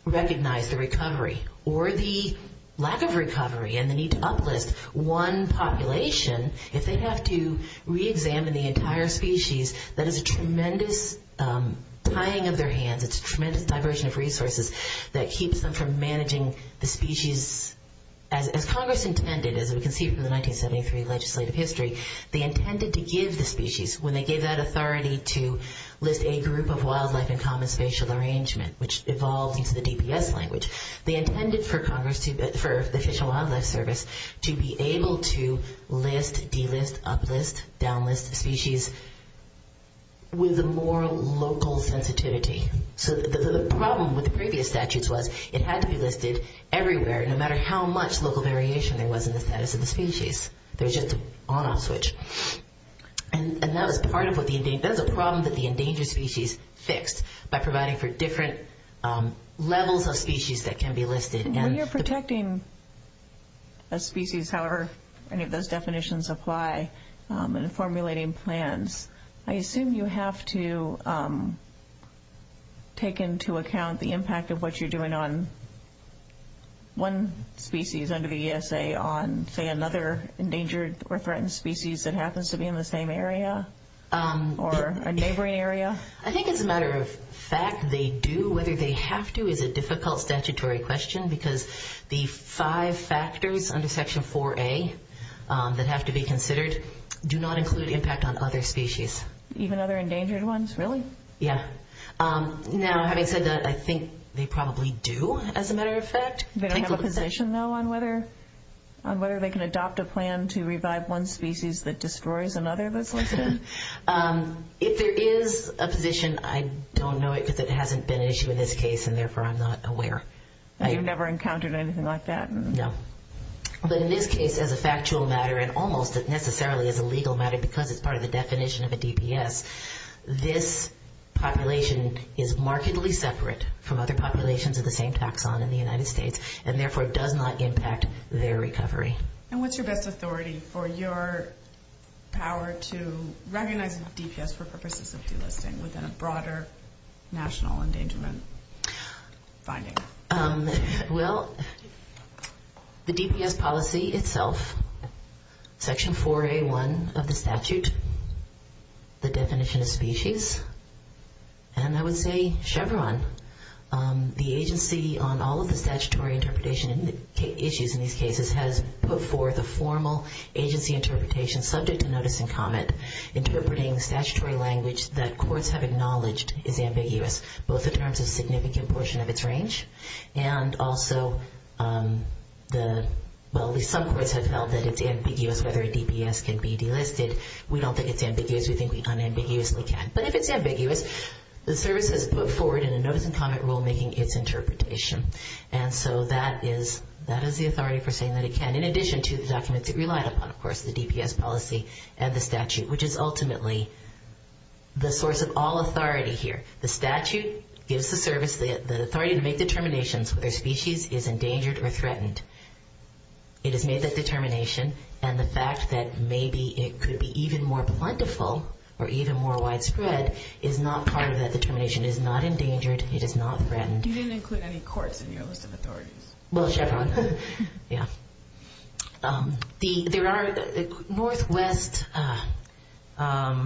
recognize the recovery or the lack of recovery and the need to uplift one population, if they have to reexamine the entire species, that is a tremendous tying of their hands. It's a tremendous diversion of resources that keeps them from managing the species as Congress intended, as we can see from the 1973 legislative history, they intended to give the species, when they gave that authority to list a group of wildlife in common spatial arrangement, which evolved into the DPS language, they intended for Congress, for the Fish and Wildlife Service, to be able to list, delist, uplift, downlist the species with a more local sensitivity. So the problem with the previous statutes was it had to be listed everywhere, no matter how much local variation there was in the status of the species. There's just an on-off switch. And that is part of what the endangered, that is a problem that the endangered species fix by providing for different levels of species that can be listed. When you're protecting a species, however those definitions apply, and formulating plans, I assume you have to take into account the impact of what you're doing on one species under the ESA on, say, another endangered species that happens to be in the same area or neighboring area? I think it's a matter of fact they do. Whether they have to is a difficult statutory question because the five factors under Section 4A that have to be considered do not include impact on other species. Even other endangered ones, really? Yes. Now, having said that, I think they probably do, as a matter of fact. They don't have a position, though, on whether they can adopt a plan to revive one species that destroys another? If there is a position, I don't know it because it hasn't been an issue in this case, and therefore I'm not aware. You've never encountered anything like that? No. But in this case, as a factual matter, and almost necessarily as a legal matter because it's part of the definition of a DPS, this population is markedly separate from other populations of the same taxon in the United States, and therefore does not impact their recovery. And what's your best authority for your power to recognize DPS for purposes of free listing within a broader national endangerment finding? Well, the DPS policy itself, Section 4A.1 of the statute, the definition of species, and I would say Chevron, the agency on all of the statutory interpretation issues in these cases has put forth a formal agency interpretation subject to notice and comment interpreting the statutory language that courts have acknowledged is ambiguous, both in terms of significant portion of its range, and also the subcourt has held that it's ambiguous whether a DPS can be delisted. We don't think it's ambiguous. We think we unambiguously can. But if it's ambiguous, the service is put forward in a notice and comment rule making its interpretation. And so that is the authority for saying that it can, in addition to the documents it relied upon, of course, the DPS policy and the statute, which is ultimately the source of all authority here. The statute gives the service, the authority to make determinations whether a species is endangered or threatened. It has made that determination, and the fact that maybe it could be even more plentiful or even more widespread is not part of that determination. It is not endangered. It is not threatened. You didn't include any courts in your list of authorities. Well, Chevron. Yeah. There are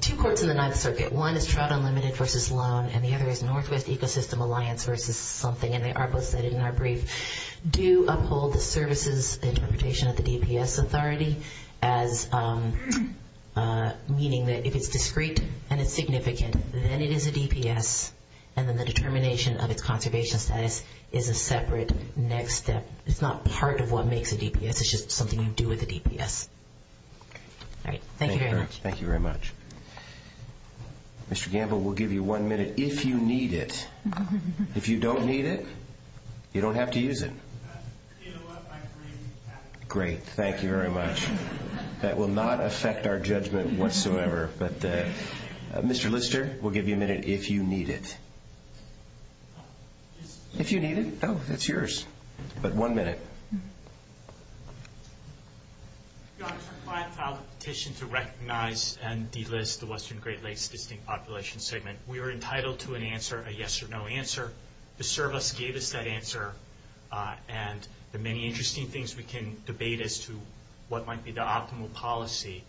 two courts in the Ninth Circuit. One is Trout Unlimited versus Loan, and the other is Northwest Ecosystem Alliance versus something, and they are both cited in our brief, do uphold the services interpretation of the DPS authority, meaning that if it's discrete and it's significant, then it is a DPS, and then the determination of the conservation status is a separate next step. It's not part of what makes a DPS. It's just something you do with a DPS. All right. Thank you very much. Thank you very much. Mr. Gamble, we'll give you one minute if you need it. If you don't need it, you don't have to use it. Great. Thank you very much. That will not affect our judgment whatsoever, but Mr. Lister, we'll give you a minute if you need it. If you need it? Oh, that's yours. But one minute. I have a petition to recognize and delist the Western Great Lakes Distinct Population Segment. We are entitled to an answer, a yes or no answer. The service gave us that answer, and there are many interesting things we can debate as to what might be the optimal policy,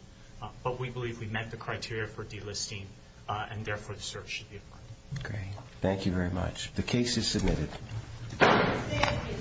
but we believe we met the criteria for delisting, and therefore the service should be appointed. Great. Thank you very much. The case is submitted. Thank you.